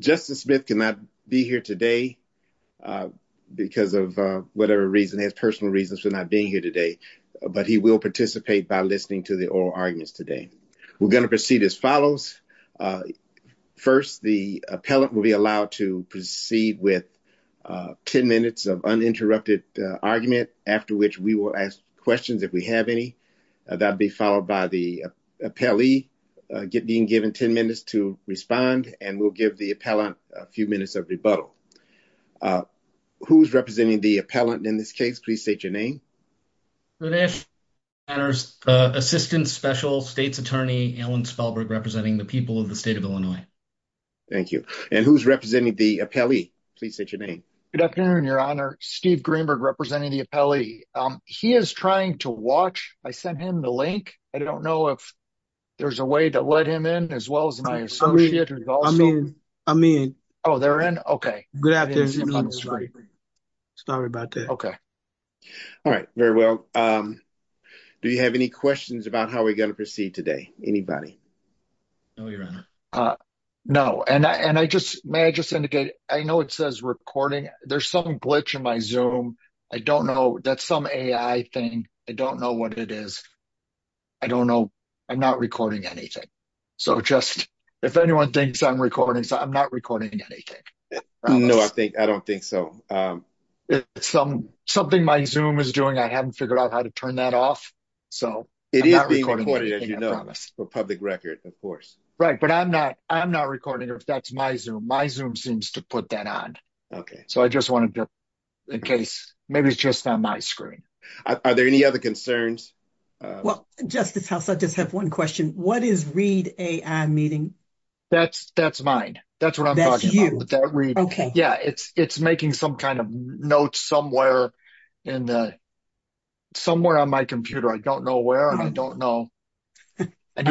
Justice Smith cannot be here today because of whatever reason. He has personal reasons for not being here today, but he will participate by listening to the oral arguments today. We're going to proceed as follows. First, the appellant will be allowed to proceed with 10 minutes of uninterrupted argument, after which we will ask questions if we have any. That will be followed by the appellee being given 10 minutes to respond, and we'll give the appellant a few minutes of rebuttal. Who's representing the appellant in this case? Please state your name. Good afternoon, your honor. Steve Greenberg, representing the appellee. He is trying to watch. I sent him the link. I don't know if there's a way to let him in, as well as my associates. I'm in. Oh, they're in? Okay. Sorry about that. Okay. All right. Very well. Do you have any questions about how we're going to proceed today? Anybody? No, your honor. No. May I just indicate, I know it says recording. There's some glitch in my Zoom. I don't know. That's some AI thing. I don't know what it is. I don't know. I'm not recording anything. If anyone thinks I'm recording, I'm not recording anything. No, I don't think so. Something my Zoom is doing, I haven't figured out how to turn that off. It is being recorded, as you know, for public record, of course. Right, but I'm not. I'm not recording if that's my Zoom. My Zoom seems to put that on. So I just wanted to, in case, maybe it's just on my screen. Are there any other concerns? Well, Justice House, I just have one question. What is read AI meeting? That's mine. That's what I'm talking about. It's making some kind of notes somewhere on my computer. I don't know where. I don't know. I think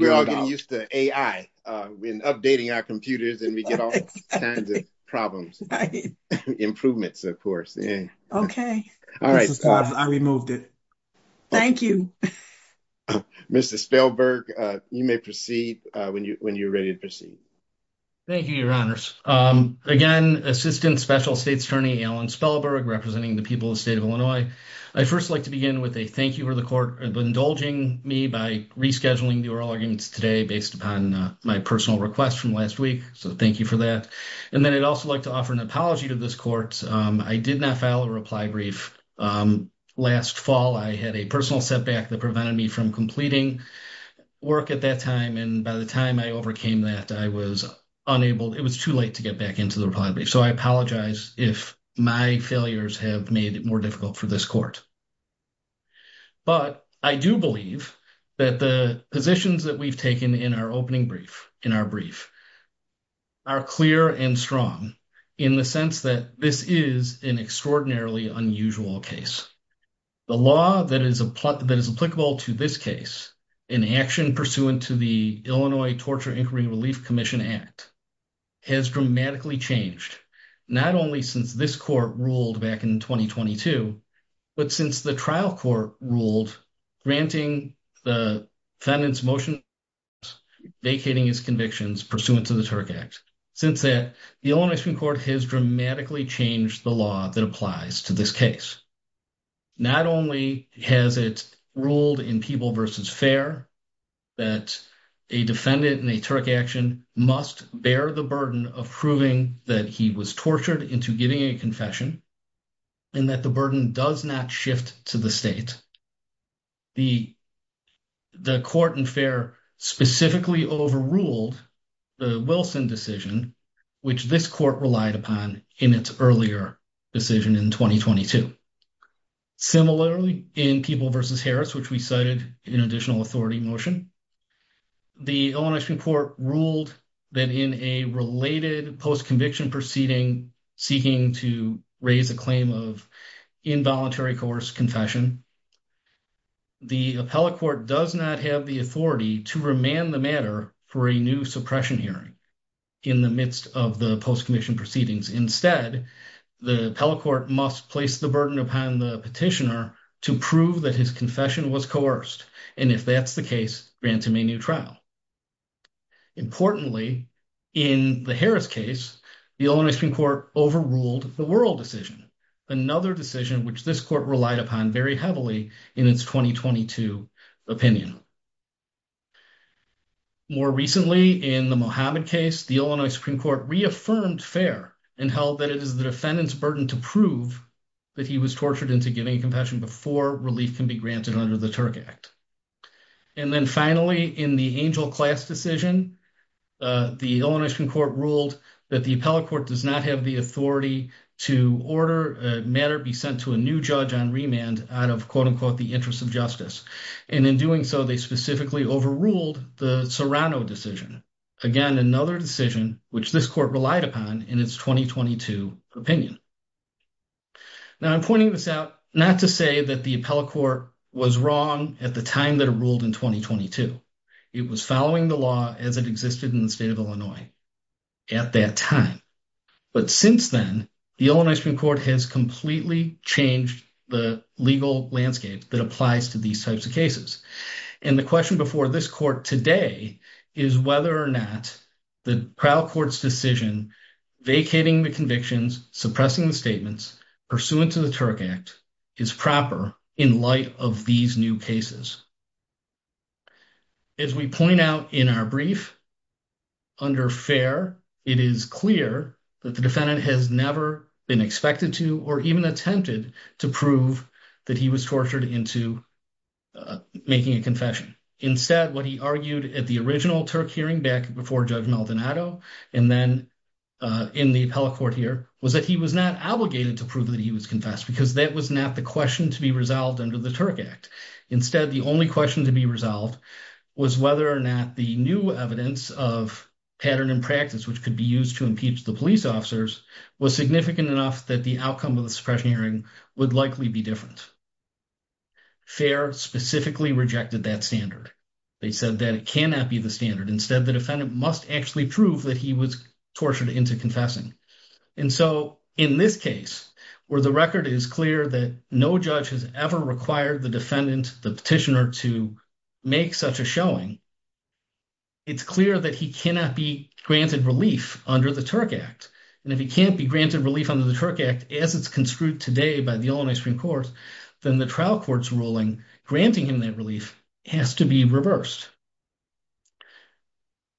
we're all getting used to AI when updating our computers, and we get all kinds of problems, improvements, of course. Okay. All right. I removed it. Thank you. Mr. Spellberg, you may proceed when you're ready to proceed. Thank you, Your Honors. Again, Assistant Special States Attorney Alan Spellberg, representing the people of the state of Illinois. I'd first like to begin with a thank you for the personal request from last week. So thank you for that. And then I'd also like to offer an apology to this court. I did not file a reply brief last fall. I had a personal setback that prevented me from completing work at that time. And by the time I overcame that, I was unable, it was too late to get back into the reply brief. So I apologize if my failures have made it more difficult for this court. But I do believe that the positions that we've taken in our opening brief and our brief are clear and strong in the sense that this is an extraordinarily unusual case. The law that is applicable to this case in action pursuant to the Illinois Torture Inquiry Relief Commission Act has dramatically changed, not only since this court ruled back in 2022, but since the trial court ruled granting the defendant's motion vacating his convictions pursuant to the Turk Act. Since that, the Illinois Supreme Court has dramatically changed the law that applies to this case. Not only has it ruled in people versus fair that a defendant in a Turk action must bear the burden of proving that he was tortured into giving a confession and that burden does not shift to the state, the court in fair specifically overruled the Wilson decision, which this court relied upon in its earlier decision in 2022. Similarly, in people versus Harris, which we cited in additional authority motion, the Illinois Supreme Court ruled that in a related post-conviction proceeding seeking to raise a claim of involuntary coerced confession, the appellate court does not have the authority to remand the matter for a new suppression hearing in the midst of the post-conviction proceedings. Instead, the appellate court must place the burden upon the petitioner to prove that his confession was coerced, and if that's the case, grant him a new trial. Importantly, in the Harris case, the Illinois Supreme Court overruled the World decision, another decision which this court relied upon very heavily in its 2022 opinion. More recently, in the Mohammed case, the Illinois Supreme Court reaffirmed fair and held that it is the defendant's burden to prove that he was tortured into giving a confession before relief can be granted under the Turk Act. And then finally, in the Angel Class decision, the Illinois Supreme Court ruled that the appellate court does not have the authority to order a matter be sent to a new judge on remand out of, quote-unquote, the interest of justice, and in doing so, they specifically overruled the Serrano decision, again, another decision which this court relied upon in its 2022 opinion. Now, I'm pointing this out not to say that the appellate court was wrong at the time that it ruled in 2022. It was following the law as it existed in the state of Illinois at that time. But since then, the Illinois Supreme Court has completely changed the legal landscape that applies to these types of cases. And the question before this court today is whether or not the trial court's decision vacating the convictions, suppressing the statements pursuant to the Turk Act is proper in light of these new cases. As we point out in our brief, under fair, it is clear that the defendant has never been expected to or even attempted to prove that he was tortured into making a confession. Instead, what he argued at the original Turk hearing back before Judge Maldonado and then in the appellate court here was that he was not obligated to prove that he was confessed because that was not the question to be resolved under the Turk Act. Instead, the only question to be resolved was whether or not the new evidence of pattern and practice which could be used to impeach the officers was significant enough that the outcome of the suppression hearing would likely be different. Fair specifically rejected that standard. They said that it cannot be the standard. Instead, the defendant must actually prove that he was tortured into confessing. And so in this case, where the record is clear that no judge has ever required the defendant, the petitioner, to make such a showing, it's clear that he cannot be granted relief under the Turk Act. And if he can't be granted relief under the Turk Act as it's construed today by the Illinois Supreme Court, then the trial court's ruling granting him that relief has to be reversed.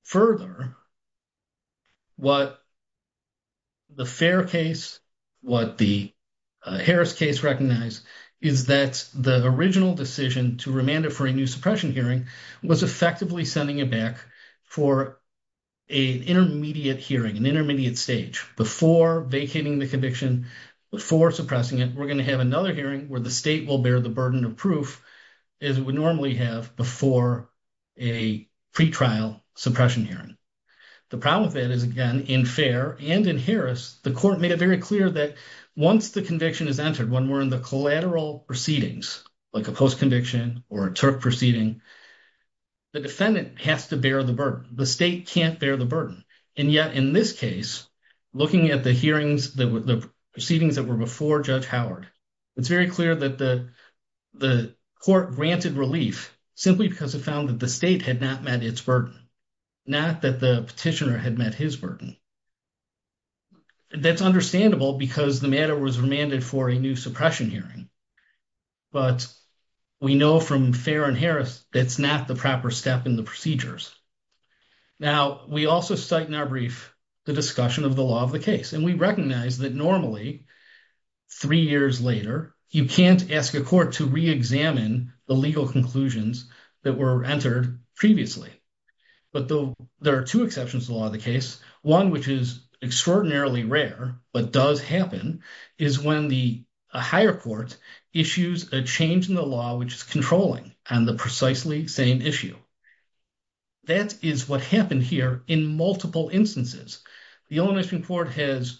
Further, what the fair case, what the Harris case recognized is that the original decision to remand it for a new suppression hearing was effectively sending it back for an intermediate hearing, an intermediate stage. Before vacating the conviction, before suppressing it, we're going to have another hearing where the state will bear the burden of proof as it would normally have before a pretrial suppression hearing. The problem with that is, again, in fair and in Harris, the court made it very clear that once the conviction is entered, when we're in the collateral proceedings, like a post-conviction or a Turk proceeding, the defendant has to bear the burden. The state can't bear the burden. And yet, in this case, looking at the hearings, the proceedings that were before Judge Howard, it's very clear that the court granted relief simply because it found that the state had not met its burden, not that the petitioner had met his burden. That's understandable because the matter was remanded for a new suppression hearing, but we know from fair and Harris that's not the proper step in the procedures. Now, we also cite in our brief the discussion of the law of the case, and we recognize that normally, three years later, you can't ask a court to re-examine the legal conclusions that were entered previously. But there are two exceptions to the law of the case. One, which is extraordinarily rare, but does happen, is when the higher court issues a change in the law, which is controlling on the precisely same issue. That is what happened here in multiple instances. The Illinois Supreme Court has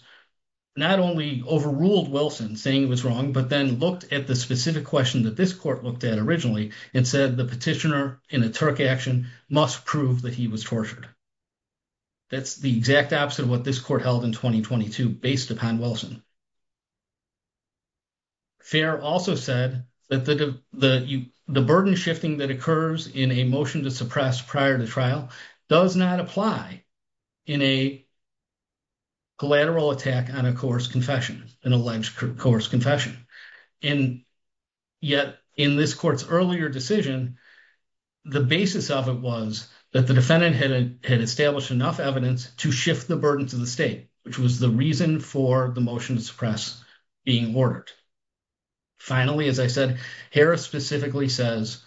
not only overruled Wilson, saying he was wrong, but then looked at the specific question that this court looked at originally and said the petitioner in a Turk action must prove that he was tortured. That's the exact opposite of what this court held in 2022 based upon Wilson. Fair also said that the burden shifting that occurs in a motion to suppress prior to trial does not apply in a collateral attack on a coerced confession, an alleged earlier decision, the basis of it was that the defendant had had established enough evidence to shift the burden to the state, which was the reason for the motion to suppress being ordered. Finally, as I said, Harris specifically says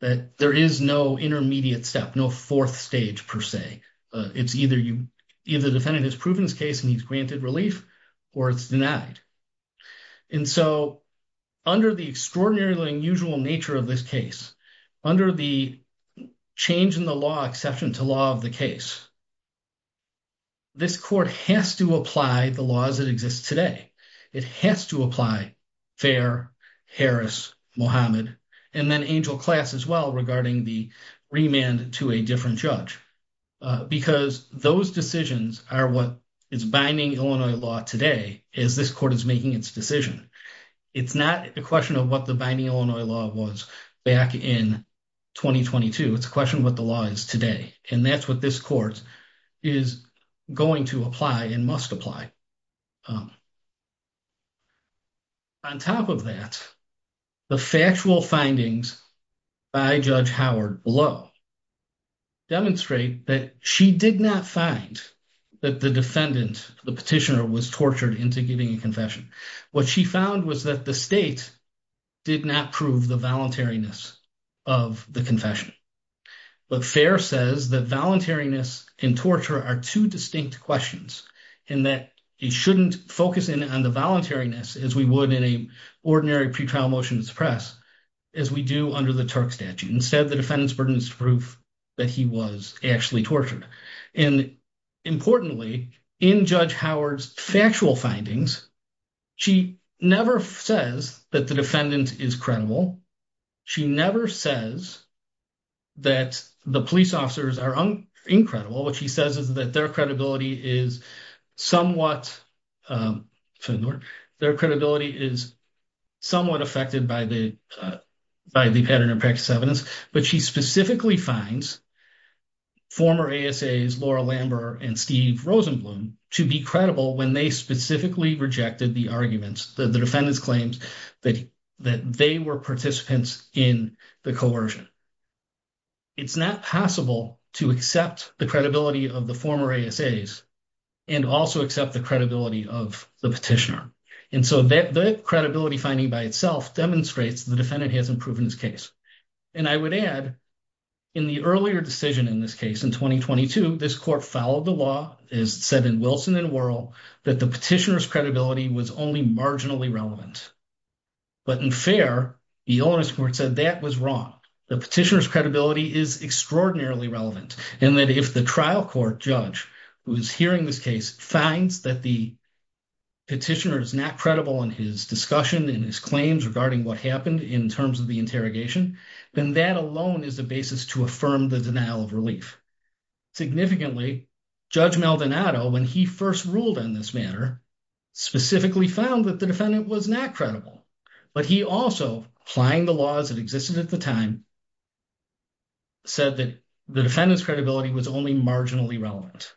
that there is no intermediate step, no fourth stage per se. It's either the defendant has proven his case and he's granted relief, or it's denied. And so under the extraordinarily unusual nature of this case, under the change in the law exception to law of the case, this court has to apply the laws that exist today. It has to apply Fair, Harris, Mohammed, and then Angel Class as well regarding the remand to a different judge, because those decisions are what is binding Illinois law today, as this court is making its decision. It's not a question of what the binding Illinois law was back in 2022. It's a question of what the law is today. And that's what this court is going to apply and must apply. On top of that, the factual findings by Judge Howard below demonstrate that she did not find that the defendant, the petitioner, was tortured into giving a confession. What she found was that the state did not prove the voluntariness of the confession. But Fair says that voluntariness and torture are two distinct questions and that you shouldn't focus in on the voluntariness as we would in an ordinary pretrial motion to suppress, as we do under the Turk statute. Instead, the defendant's burden is proof that he was actually tortured. And importantly, in Judge Howard's factual findings, she never says that the defendant is credible. She never says that the police officers are incredible. What she says is that their credibility is somewhat affected by the pattern of practice evidence. But she specifically finds former ASAs Laura Lambert and Steve Rosenblum to be credible when they specifically rejected the arguments, the defendant's claims, that they were participants in the coercion. It's not possible to accept the credibility of the former ASAs and also accept the credibility of the petitioner. And so the credibility finding by itself demonstrates the defendant hasn't proven his case. And I would add, in the earlier decision in this case, in 2022, this court followed the law, as said in Wilson and Worrell, that the petitioner's credibility was only marginally relevant. But in fair, the onus court said that was wrong. The petitioner's credibility is extraordinarily relevant and that if the trial court judge who is hearing this case finds that the petitioner is not credible in his discussion and his claims regarding what happened in terms of the interrogation, then that alone is the basis to affirm the denial of relief. Significantly, Judge Maldonado, when he first ruled on this matter, specifically found that the defendant was not credible. But he also, applying the laws that existed at the time, said that the defendant's credibility was only marginally relevant.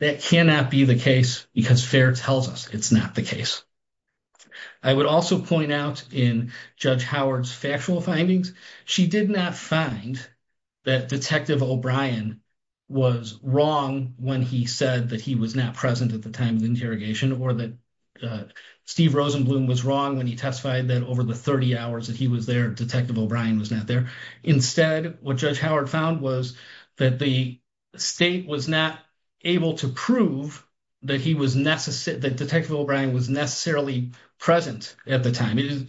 That cannot be the case because fair tells us it's not the case. I would also point out in Howard's factual findings, she did not find that Detective O'Brien was wrong when he said that he was not present at the time of the interrogation or that Steve Rosenblum was wrong when he testified that over the 30 hours that he was there, Detective O'Brien was not there. Instead, what Judge Howard found was that the state was not able to prove that he was necessary, that Detective O'Brien was necessarily present at the time.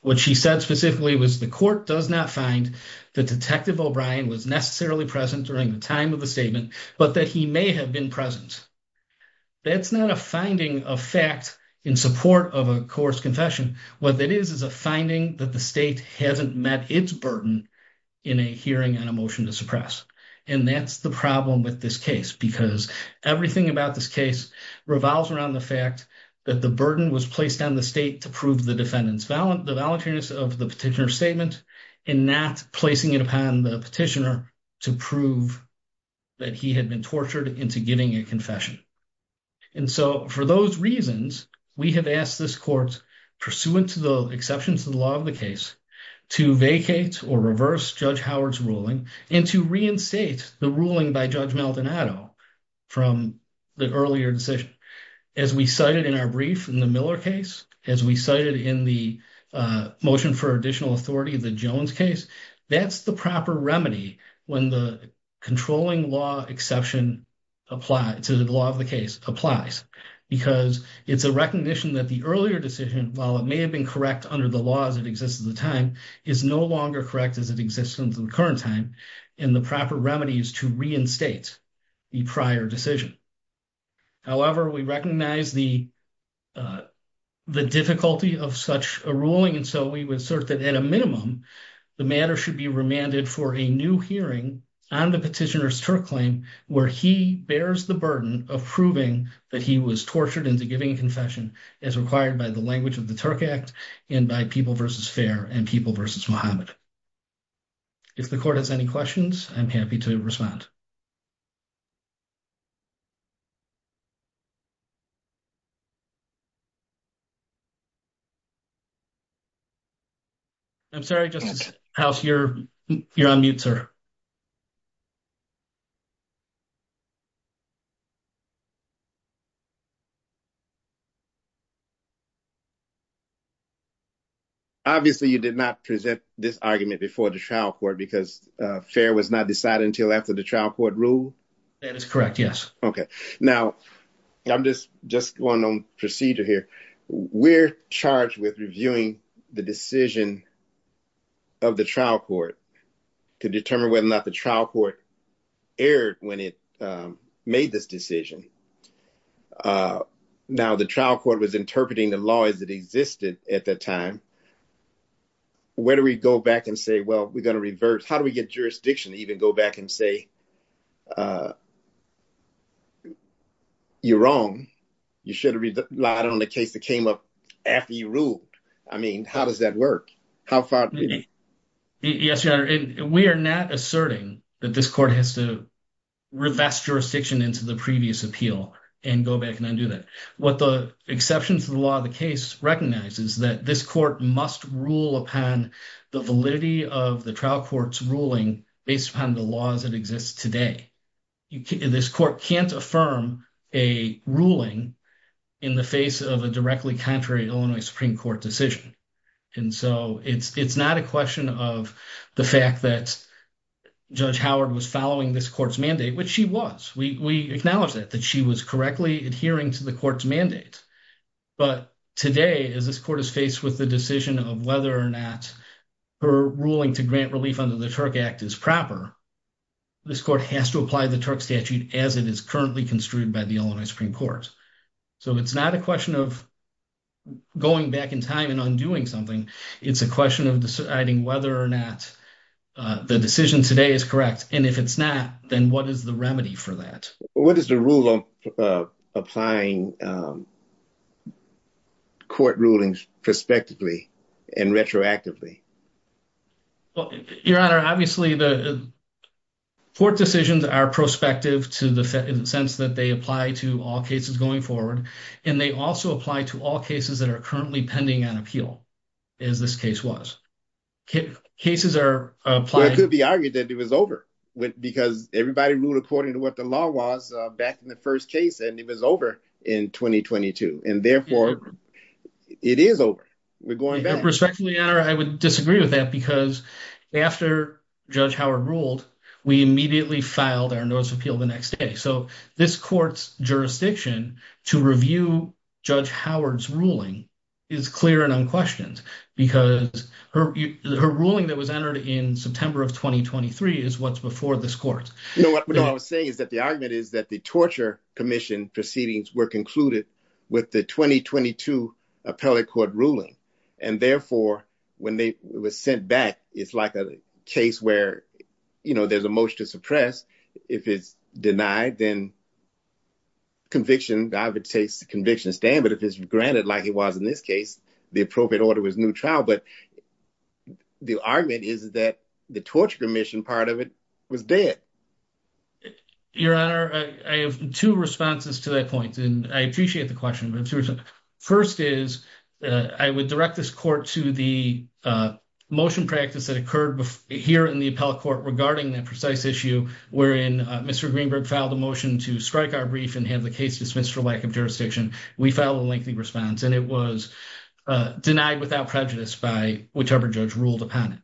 What she said specifically was the court does not find that Detective O'Brien was necessarily present during the time of the statement, but that he may have been present. That's not a finding of fact in support of a coerced confession. What that is, is a finding that the state hasn't met its burden in a hearing on a motion to suppress. And that's the problem with this case because everything about this case revolves around the fact that the burden was placed on the state to prove the defendant's the voluntariness of the petitioner's statement and not placing it upon the petitioner to prove that he had been tortured into giving a confession. And so, for those reasons, we have asked this court, pursuant to the exceptions to the law of the case, to vacate or reverse Judge Howard's ruling and to reinstate the ruling by Judge Maldonado from the earlier decision. As we cited in our brief in the Miller case, as we cited in the motion for additional authority, the Jones case, that's the proper remedy when the controlling law exception to the law of the case applies. Because it's a recognition that the earlier decision, while it may have been correct under the laws that exist at the time, is no longer correct as it exists in the current time, and the proper remedy is to reinstate the prior decision. However, we recognize the difficulty of such a ruling, and so we would assert that, at a minimum, the matter should be remanded for a new hearing on the petitioner's Turk claim, where he bears the burden of proving that he was tortured into giving a confession, as required by the language of the Turk Act and by People v. Fair and People v. Muhammad. If the court has any questions, I'm happy to respond. I'm sorry, Justice House, you're on mute, sir. Obviously, you did not present this argument before the trial court because fair was not decided until after the trial court ruled? That is correct, yes. Okay. Now, I'm just going on procedure here. We're charged with reviewing the decision of the trial court to determine whether or not the trial court erred when it made this decision. Now, the trial court was interpreting the law as it existed at that time. Where do we go back and say, well, we're going to reverse? How do we get jurisdiction to even go back and say, you're wrong, you should have relied on the case that came up after you ruled? I mean, how does that work? How far do we go? Yes, Your Honor, and we are not asserting that this court has to jurisdiction into the previous appeal and go back and undo that. What the exceptions to the law of the case recognize is that this court must rule upon the validity of the trial court's ruling based upon the laws that exist today. This court can't affirm a ruling in the face of a directly contrary Illinois Supreme Court decision. And so it's not a question of the fact that Judge Howard was following this court's mandate, which she was. We acknowledge that, that she was correctly adhering to the court's mandate. But today, as this court is faced with the decision of whether or not her ruling to grant relief under the Turk Act is proper, this court has to apply the Turk statute as it is currently construed by the Illinois Supreme Court. So it's not a question of going back in time and undoing something. It's a question of deciding whether or not the decision today is correct. And if it's not, then what is the remedy for that? What is the rule on applying court rulings prospectively and retroactively? Your Honor, obviously the court decisions are prospective to the sense that they apply to all cases going forward. And they also apply to all cases that are currently pending on appeal, as this case was. Cases are applying- Well, it could be argued that it was over because everybody ruled according to what the law was back in the first case, and it was over in 2022. And therefore, it is over. We're going back. Respectfully, Your Honor, I would disagree with that because after Judge Howard ruled, we immediately filed our notice of appeal the next day. So this court's jurisdiction to review Judge Howard's ruling is clear and unquestioned because her ruling that was entered in September of 2023 is what's before this court. You know what I was saying is that the argument is that the torture commission proceedings were concluded with the 2022 appellate court ruling. And therefore, when it was sent back, it's like a case where there's a motion to suppress. If it's denied, then conviction, I would say it's a conviction to stand. But if it's granted, like it was in this case, the appropriate order was new trial. But the argument is that the torture commission part of it was dead. Your Honor, I have two responses to that point, and I appreciate the question. First is, I would direct this court to the motion practice that occurred here in the appellate court regarding that precise issue wherein Mr. Greenberg filed a motion to strike our brief and have the case dismissed for lack of jurisdiction. We filed a lengthy response, and it was denied without prejudice by whichever judge ruled upon it.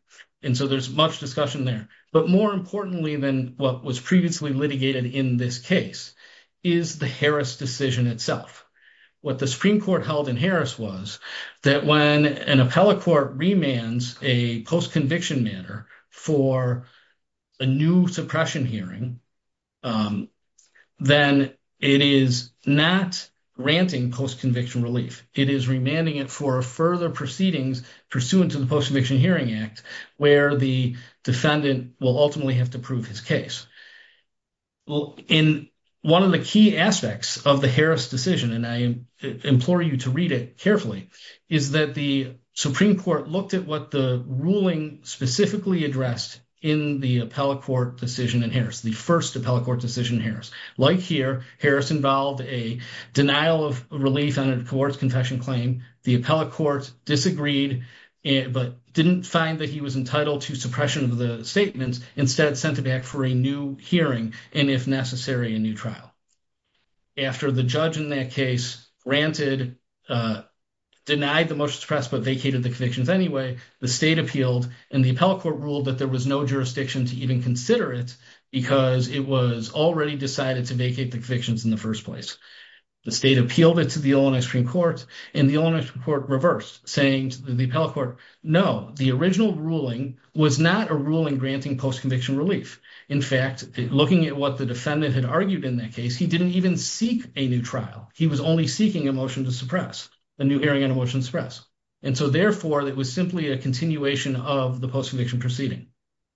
And so there's much discussion there. But more importantly than what was previously litigated in this case is the Harris decision itself. What the Supreme Court held in Harris was that when an appellate court remands a post-conviction manner for a new suppression hearing, then it is not granting post-conviction relief. It is remanding it for further proceedings pursuant to the Post-Conviction Hearing Act, where the defendant will ultimately have to prove his case. In one of the key aspects of the Harris decision, and I implore you to read it carefully, is that the Supreme Court looked at what the ruling specifically addressed in the appellate court decision in Harris, the first appellate court decision in Harris. Like here, Harris involved a denial of relief on a coerced confession claim. The appellate court disagreed, but didn't find that he was entitled to suppression of the statements. Instead, sent it back for a new hearing, and if necessary, a new trial. After the judge in that case granted denied the motion to suppress but vacated the convictions anyway, the state appealed, and the appellate court ruled that there was no jurisdiction to even consider it, because it was already decided to vacate the convictions in the first place. The state appealed it to the Illinois Supreme Court, and the Illinois Supreme Court reversed, saying to the appellate court, no, the original ruling was not a ruling granting post-conviction relief. In fact, looking at what the defendant had argued in that case, he didn't even seek a trial. He was only seeking a motion to suppress, a new hearing on a motion to suppress. And so, therefore, it was simply a continuation of the post-conviction proceeding.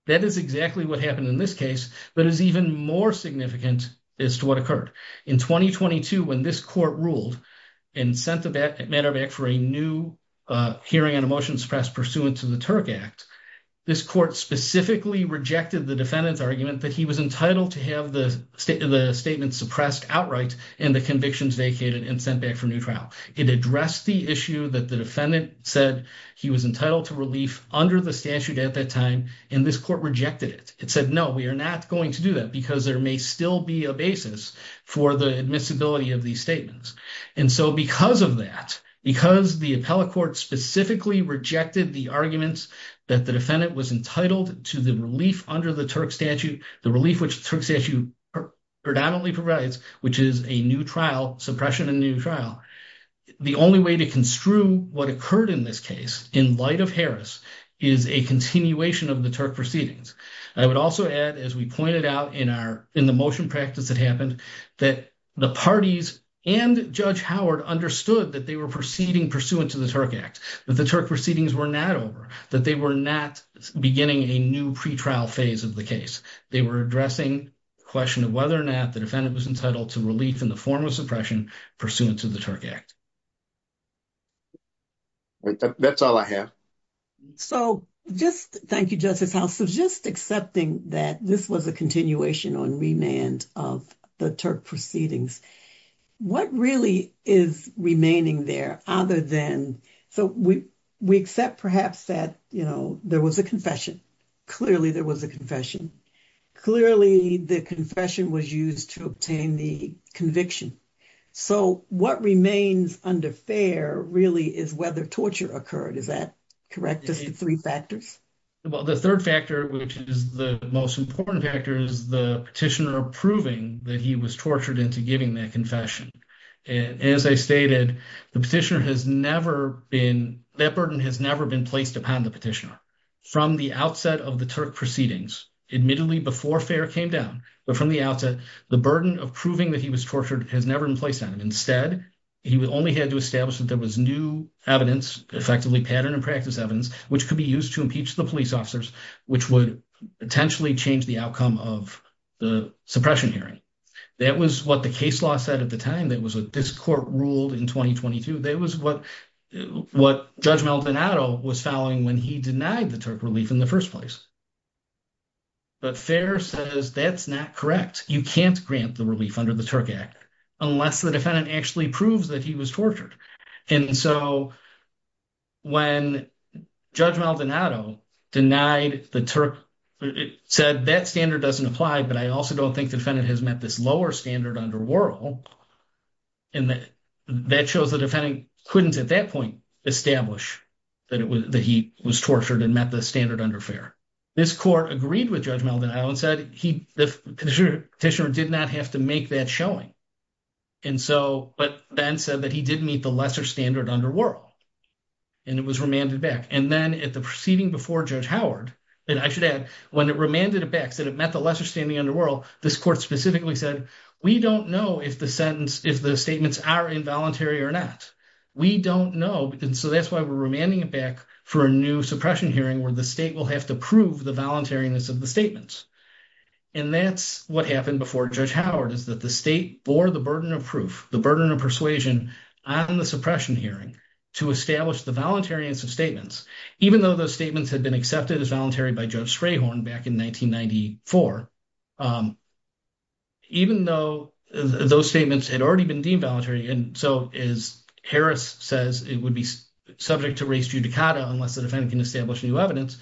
That is exactly what happened in this case, but is even more significant as to what occurred. In 2022, when this court ruled and sent the matter back for a new hearing on a motion to suppress pursuant to the Turk Act, this court specifically rejected the defendant's argument that he was entitled to the statement suppressed outright, and the convictions vacated and sent back for a new trial. It addressed the issue that the defendant said he was entitled to relief under the statute at that time, and this court rejected it. It said, no, we are not going to do that, because there may still be a basis for the admissibility of these statements. And so, because of that, because the appellate court specifically rejected the argument that the defendant was entitled to the under the Turk statute, the relief which the Turk statute predominantly provides, which is a new trial, suppression and new trial, the only way to construe what occurred in this case, in light of Harris, is a continuation of the Turk proceedings. I would also add, as we pointed out in the motion practice that happened, that the parties and Judge Howard understood that they were proceeding pursuant to the Turk Act, that the Turk proceedings were not over, that they were not beginning a new pretrial phase of the case. They were addressing the question of whether or not the defendant was entitled to relief in the form of suppression pursuant to the Turk Act. That's all I have. So, just, thank you, Justice House. So, just accepting that this was a continuation on remand of the Turk proceedings, what really is remaining there, other than, so, we accept perhaps that, you know, there was a confession. Clearly, there was a confession. Clearly, the confession was used to obtain the conviction. So, what remains under fair really is whether torture occurred. Is that correct, just the three factors? Well, the third factor, which is the most important factor, is the petitioner proving that he was tortured into giving that confession. And as I stated, the petitioner has never been, that burden has never been placed upon the petitioner. From the outset of the Turk proceedings, admittedly before fair came down, but from the outset, the burden of proving that he was tortured has never been placed on him. Instead, he only had to establish that there was new evidence, effectively pattern and practice evidence, which could be used to impeach the police officers, which would potentially change the outcome of the suppression hearing. That was what the case law said at the time. That was what this court ruled in 2022. That was what Judge Maldonado was following when he denied the Turk relief in the first place. But fair says that's not correct. You can't grant the relief under the Turk Act unless the defendant actually proves that he was tortured. And so, when Judge Maldonado denied the Turk, said that standard doesn't apply, but I also don't think the defendant has met this lower standard under Worrell. And that shows the defendant couldn't, at that point, establish that he was tortured and met the standard under fair. This court agreed with Judge Maldonado and said the petitioner did not have to make that showing. And so, but then said that he did meet the lesser standard under Worrell. And it was remanded back. And then, at the proceeding before Judge Howard, and I should add, when it remanded it back, said it met the lesser standard under Worrell, this court specifically said, we don't know if the sentence, if the statements are involuntary or not. We don't know. And so, that's why we're remanding it back for a new suppression hearing, where the state will have to prove the voluntariness of the statements. And that's what happened before Judge Howard, is that the state bore the burden of proof, the burden of persuasion on the suppression hearing to establish the voluntariness of statements, even though those statements had been accepted as voluntary by Judge Sprayhorn back in 1994. Even though those statements had already been deemed voluntary, and so, as Harris says, it would be subject to res judicata unless the defendant can establish new evidence,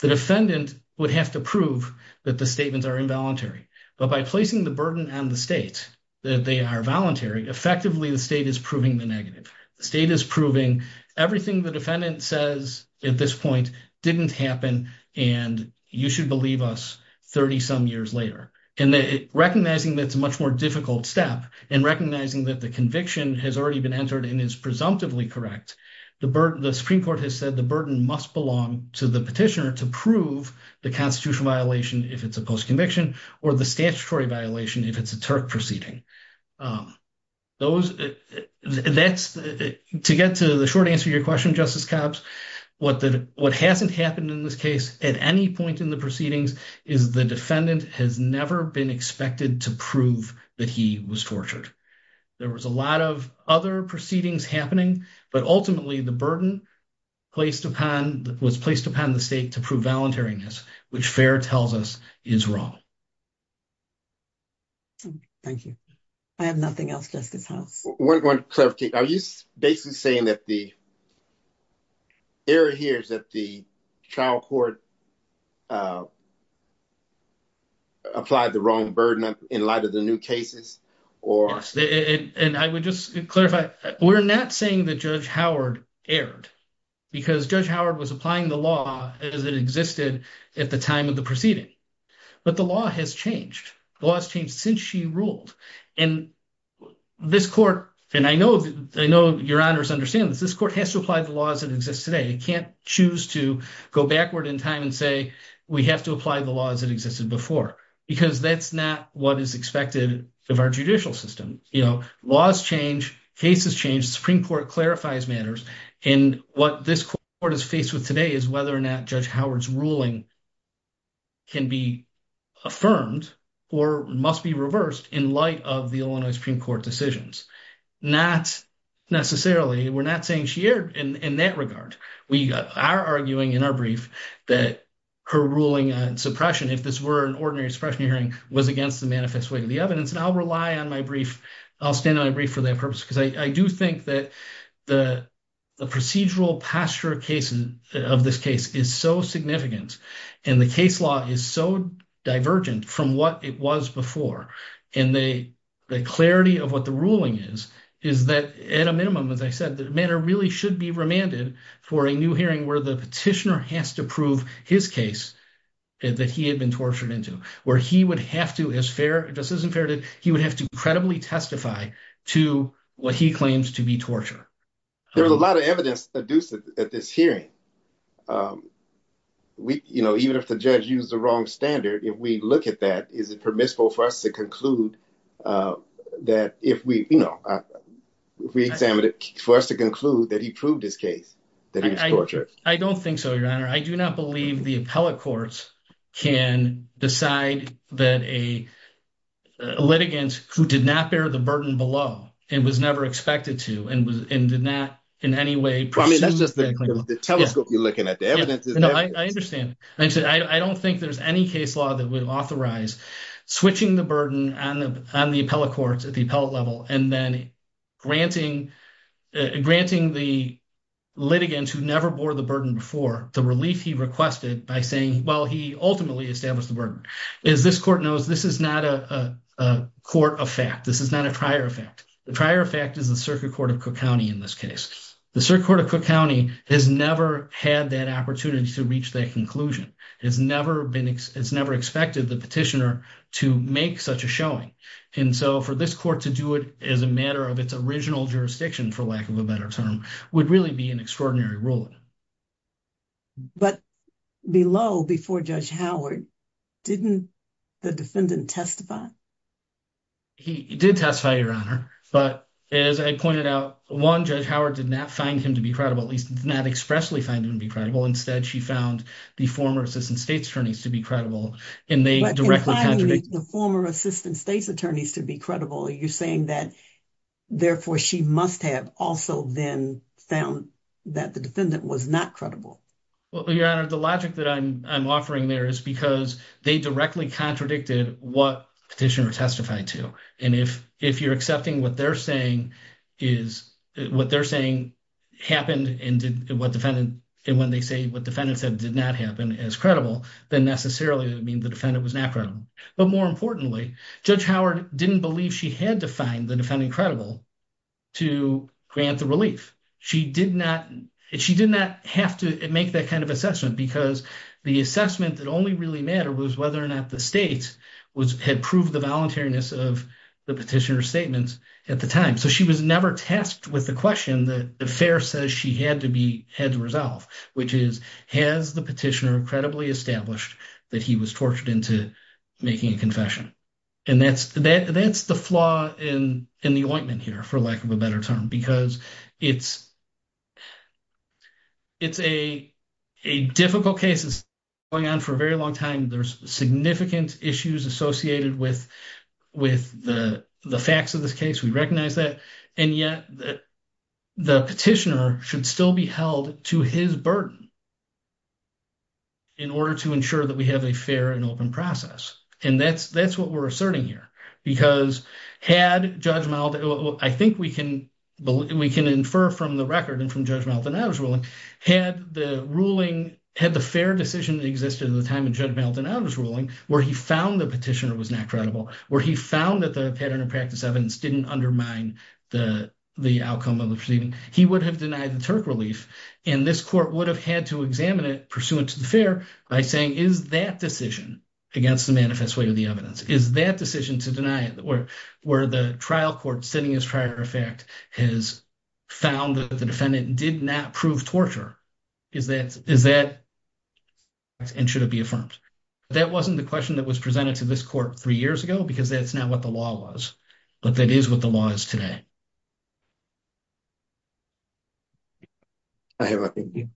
the would have to prove that the statements are involuntary. But by placing the burden on the state that they are voluntary, effectively, the state is proving the negative. The state is proving everything the defendant says at this point didn't happen, and you should believe us, 30-some years later. And recognizing that it's a much more difficult step, and recognizing that the conviction has already been entered and is presumptively correct, the Supreme Court has said the burden must belong to the petitioner to prove the constitutional violation if it's a post-conviction, or the statutory violation if it's a Turk proceeding. To get to the short answer to your question, Justice Cobbs, what hasn't happened in this case at any point in the proceedings is the defendant has never been expected to prove that he was tortured. There was a lot of other proceedings happening, but ultimately, the burden was placed upon the state to prove voluntariness, which Fehr tells us is wrong. Thank you. I have nothing else, Justice House. One clarification. Are you basically saying that the error here is that the trial court applied the wrong burden in light of the new cases? Yes. And I would just clarify, we're not saying that Judge Howard erred, because Judge Howard was applying the law as it existed at the time of the proceeding. But the law has changed. The law has changed since she ruled. And this court, and I know your Honor's understanding, this court has to apply the law as it exists today. It can't choose to go backward in time and say, we have to apply the law as it existed before, because that's not what is expected of our judicial system. You know, laws change, cases change, the Supreme Court clarifies matters. And what this court is faced with today is whether or not Judge Howard's ruling can be affirmed or must be reversed in light of the Illinois Supreme Court decisions. Not necessarily, we're not saying she erred in that regard. We are arguing in our brief that her ruling on suppression, if this were an ordinary suppression hearing, was against the manifest weight of the evidence. And I'll rely on my brief, I'll stand on a brief for that purpose, because I do think that the procedural posture of this case is so significant. And the case law is so divergent from what it was before. And the clarity of what the ruling is, is that at a minimum, as I said, the matter really should be remanded for a new hearing where the petitioner has to prove his case that he had been tortured into, where he would have to, as fair, this isn't fair, he would have to credibly testify to what he claims to be torture. There's a lot of evidence at this hearing. You know, even if the judge used the wrong standard, if we look at that, is it permissible for us to conclude that he proved his case that he was tortured? I don't think so, Your Honor. I do not believe the appellate courts can decide that a litigant who did not bear the burden below, and was never expected to, and did not in any way- I mean, that's just the telescope you're looking at. The evidence is there. I understand. I don't think there's any case law that would authorize switching the burden on the appellate courts at the appellate level, and then granting the litigants who never bore the burden before the relief he requested by saying, well, he ultimately established the burden. As this court knows, this is not a court of fact. This is not a prior effect. The prior effect is the Circuit Court of Cook County in this case. The Circuit Court of Cook County has never had that opportunity to reach that conclusion. It's never expected the petitioner to make such a showing, and so for this court to do it as a matter of its original jurisdiction, for lack of a better term, would really be an extraordinary ruling. But below, before Judge Howard, didn't the defendant testify? He did testify, Your Honor, but as I pointed out, one, Judge Howard did not find him to be credible. At least, did not expressly find him to be credible. Instead, she found the former assistant state's attorneys to be credible, and they directly- But in finding the former assistant state's attorneys to be credible, you're saying that therefore she must have also then found that the defendant was not credible. Well, Your Honor, the logic that I'm offering there is because they directly contradicted what petitioner testified to, and if you're accepting what they're saying happened, and when they say what defendant said did not happen as credible, then necessarily it would mean the defendant was not credible. But more importantly, Judge Howard didn't believe she had to find the defendant credible to grant the relief. She did not have to make that kind of assessment because the assessment that only really mattered was whether or not the state had proved the petitioner's statements at the time. So she was never tasked with the question that the fair says she had to resolve, which is, has the petitioner credibly established that he was tortured into making a confession? And that's the flaw in the ointment here, for lack of a better term, because it's a difficult case that's been going on for a very long time. There's significant issues associated with the facts of this case. We recognize that. And yet, the petitioner should still be held to his burden in order to ensure that we have a fair and open process. And that's what we're asserting here, because had Judge Maldonado, I think we can infer from the record and from Judge Maldonado's ruling, had the ruling, had the fair decision existed at the time of Judge Maldonado's ruling, where he found the petitioner was not credible, where he found that the pattern of practice evidence didn't undermine the outcome of the proceeding, he would have denied the Turk relief. And this court would have had to examine it pursuant to the fair by saying, is that decision against the manifest way of the evidence, is that decision to deny it, where the trial court sitting as prior effect has found that defendant did not prove torture, is that, and should it be affirmed? That wasn't the question that was presented to this court three years ago, because that's not what the law was. But that is what the law is today. I have a, thank you.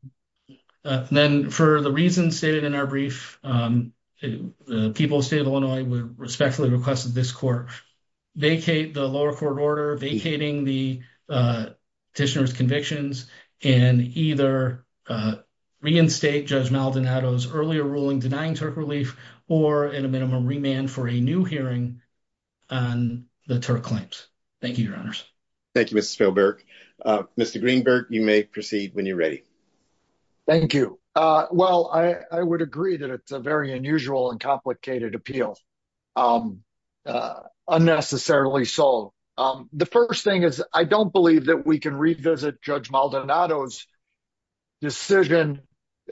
Then for the reasons stated in our brief, the people of the state of Illinois respectfully requested this court vacate the lower court order, vacating the petitioner's convictions, and either reinstate Judge Maldonado's earlier ruling denying Turk relief, or in a minimum remand for a new hearing on the Turk claims. Thank you, your honors. Thank you, Mr. Spielberg. Mr. Greenberg, you may proceed when you're ready. Thank you. Well, I would agree that it's a very unusual and complicated appeal. Unnecessarily so. The first thing is, I don't believe that we can revisit Judge Maldonado's decision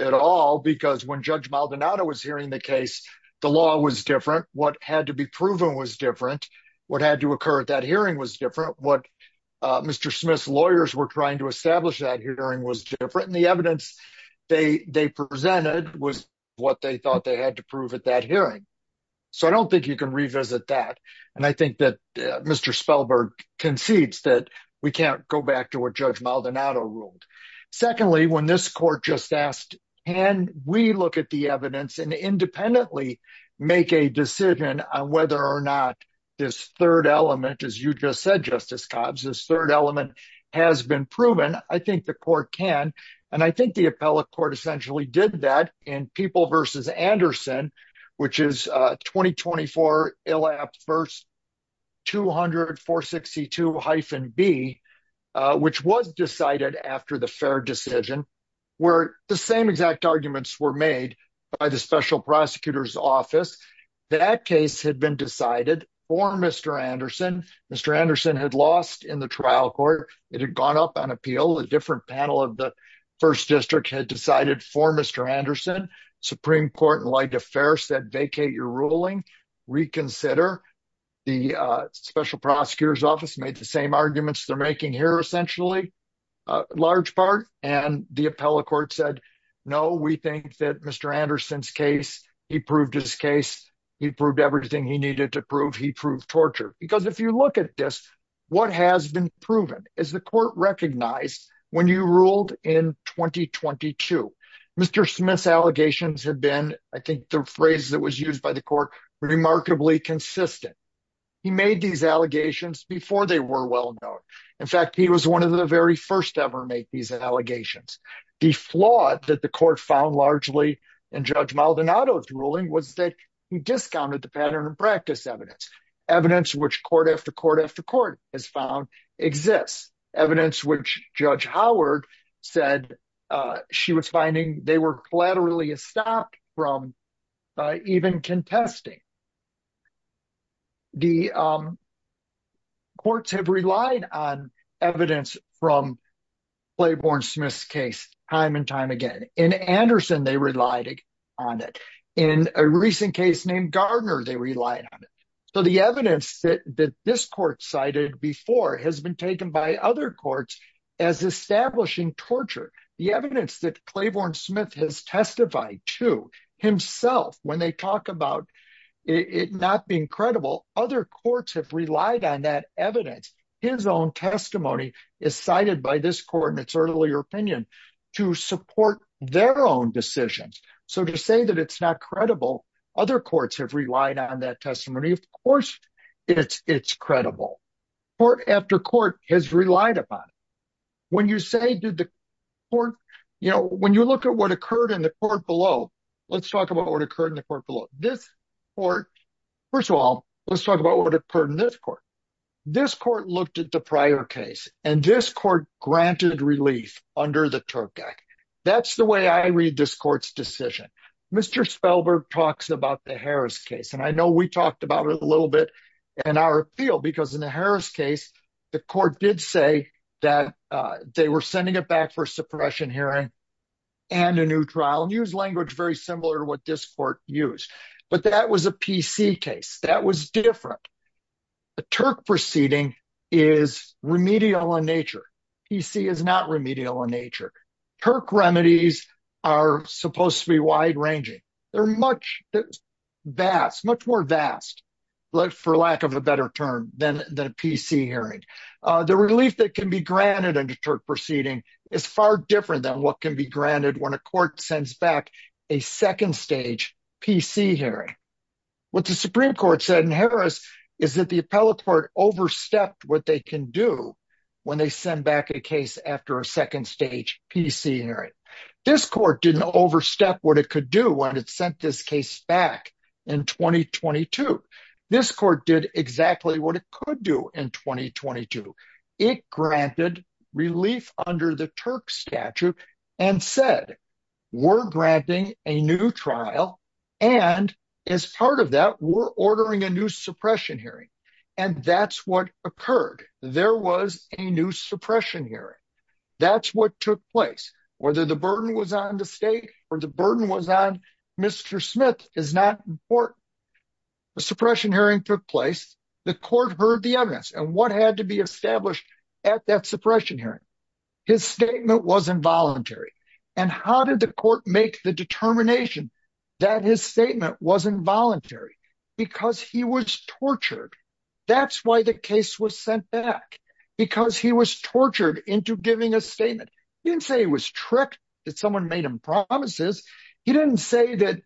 at all, because when Judge Maldonado was hearing the case, the law was different. What had to be proven was different. What had to occur at that hearing was different. What Mr. Smith's lawyers were trying to establish that hearing was different. And the evidence they presented was what they thought they had to prove at that hearing. So I don't think you can revisit that. And I think that Mr. Spielberg concedes that we can't go back to what Judge Maldonado ruled. Secondly, when this court just asked, can we look at the evidence and independently make a decision on whether or not this third element, as you just said, Justice Cobbs, this third element has been proven, I think the court can. And I think the appellate essentially did that in People v. Anderson, which is 20-24, ILL-APT, verse 200-462-B, which was decided after the fair decision, where the same exact arguments were made by the Special Prosecutor's Office. That case had been decided for Mr. Anderson. Mr. Anderson had lost in the trial court. It had gone up on appeal. A different panel of the First District had decided for Mr. Anderson. Supreme Court and Light Affairs said, vacate your ruling, reconsider. The Special Prosecutor's Office made the same arguments they're making here, essentially, large part. And the appellate court said, no, we think that Mr. Anderson's case, he proved his case, he proved everything he needed to prove, he proved torture. Because if you look at this, what has been proven is the court recognized when you ruled in 2022. Mr. Smith's allegations have been, I think the phrase that was used by the court, remarkably consistent. He made these allegations before they were well known. In fact, he was one of the very first ever to make these allegations. The flaw that the court found largely in Judge Maldonado's ruling was that he discounted the pattern of practice evidence. Evidence which court after court after court has found exists. Evidence which Judge Howard said she was finding they were collaterally estopped from even contesting. The courts have relied on evidence from Claiborne Smith's case time and time again. In Anderson, they relied on it. In a recent case named Gardner, they relied on it. So the evidence that this court cited before has been taken by other courts as establishing torture. The evidence that Claiborne Smith has testified to himself, when they talk about it not being credible, other courts have relied on that evidence. His own testimony is cited by this court in its earlier opinion to support their own decisions. So to say that it's not credible, other courts have relied on that testimony. Of course, it's credible. Court after court has relied upon it. When you look at what occurred in the court looked at the prior case, and this court granted relief under the Turk Act. That's the way I read this court's decision. Mr. Spellberg talks about the Harris case, and I know we talked about it a little bit in our appeal because in the Harris case, the court did say that they were sending it back for suppression hearing and a new trial and use language very similar to what this court used. But that was a PC case. That was different. The Turk proceeding is remedial in nature. PC is not remedial in nature. Turk remedies are supposed to be wide ranging. They're much vast, much more vast, but for lack of a better term than the PC hearing. The relief that can be granted under Turk proceeding is far different than what can be granted when a court sends back a second stage PC hearing. What the Supreme Court said in Harris is that the appellate court overstepped what they can do when they send back a case after a second stage PC hearing. This court didn't overstep what it could do when it sent this case back in 2022. This court did exactly what it could do in 2022. It granted relief under the Turk statute and said, we're granting a new trial and as part of that, we're ordering a new suppression hearing. That's what occurred. There was a new suppression hearing. That's what took place. Whether the burden was on the state or the burden was on Mr. Smith is not important. The suppression hearing took place. The court heard the evidence and what had to be established at that suppression hearing. His statement was involuntary. And how did the court make the determination that his statement was involuntary? Because he was tortured. That's why the case was sent back. Because he was tortured into giving a statement. He didn't say he was tricked, that someone made him promises. He didn't say that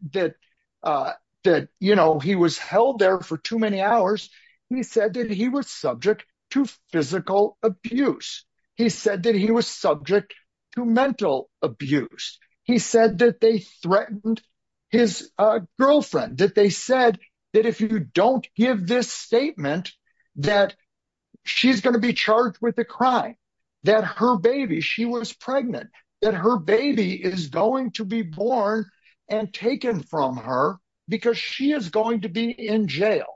that, you know, he was held there for too many hours. He said that he was subject to physical abuse. He said that he was subject to mental abuse. He said that they threatened his girlfriend, that they said that if you don't give this statement, that she's going to be charged with a crime, that her baby, she was pregnant, that her baby is going to be born and taken from her because she is going to be in jail.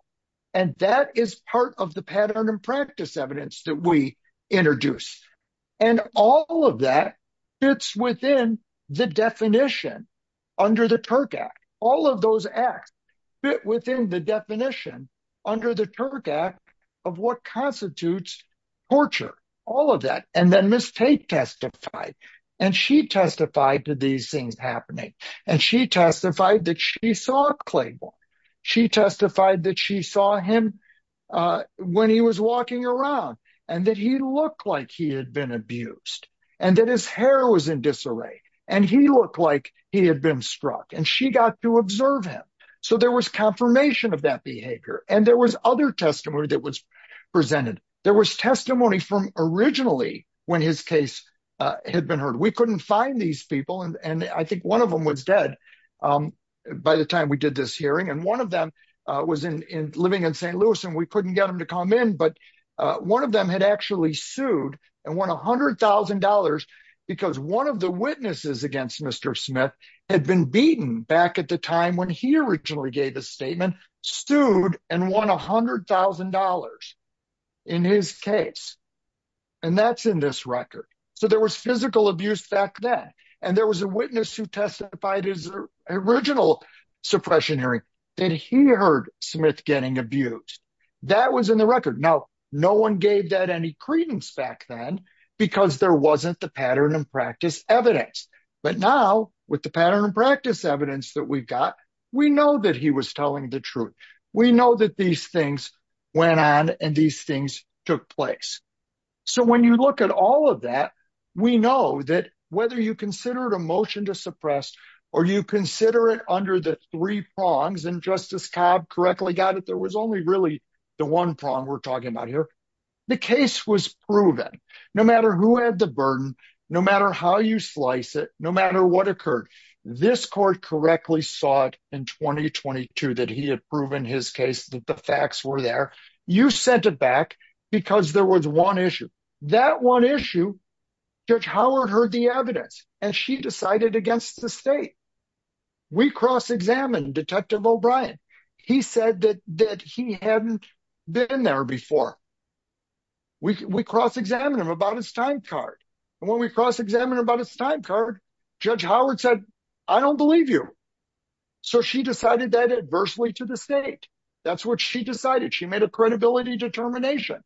And that is part of the pattern and practice evidence that we introduced. And all of that fits within the definition under the Turk Act. All of those acts fit within the definition under the Turk Act of what constitutes torture. All of that. And then Ms. Tate testified. And she testified to these things happening. And she testified that she saw Clayborne. She testified that she saw him when he was walking around and that he looked like he had been abused and that his hair was in disarray. And he looked like he had been struck. And she got to observe him. So there was confirmation of that behavior. And there was other testimony that was presented. There was testimony from originally when his case had been heard. We couldn't find these people. And I think one of them was dead by the time we did this hearing. And one of them was living in St. Louis. And we couldn't get him to come in. But one of them had actually sued and won $100,000 because one of the witnesses against Mr. Smith had been beaten back at the time when he originally gave his statement, sued and won $100,000 in his case. And that's in this record. So there was physical abuse back then. And there was a witness who testified in his original suppression hearing that he heard Smith getting abused. That was in the record. Now, no one gave that any credence back then because there wasn't the pattern and practice evidence. But now with the pattern and practice evidence that we've got, we know that he was telling the truth. We know that these things went on and these things took place. So when you look at all of that, we know that whether you consider it a motion to suppress or you consider it under the three prongs and Justice Cobb correctly got it, there was only the one prong we're talking about here. The case was proven. No matter who had the burden, no matter how you slice it, no matter what occurred, this court correctly saw it in 2022 that he had proven his case that the facts were there. You sent it back because there was one issue. That one issue, Judge Howard heard the evidence and she decided against the state. We cross-examined Detective O'Brien. He said that he hadn't been there before. We cross-examined him about his time card. And when we cross-examined him about his time card, Judge Howard said, I don't believe you. So she decided that adversely to the state. That's what she decided. She made a credibility determination.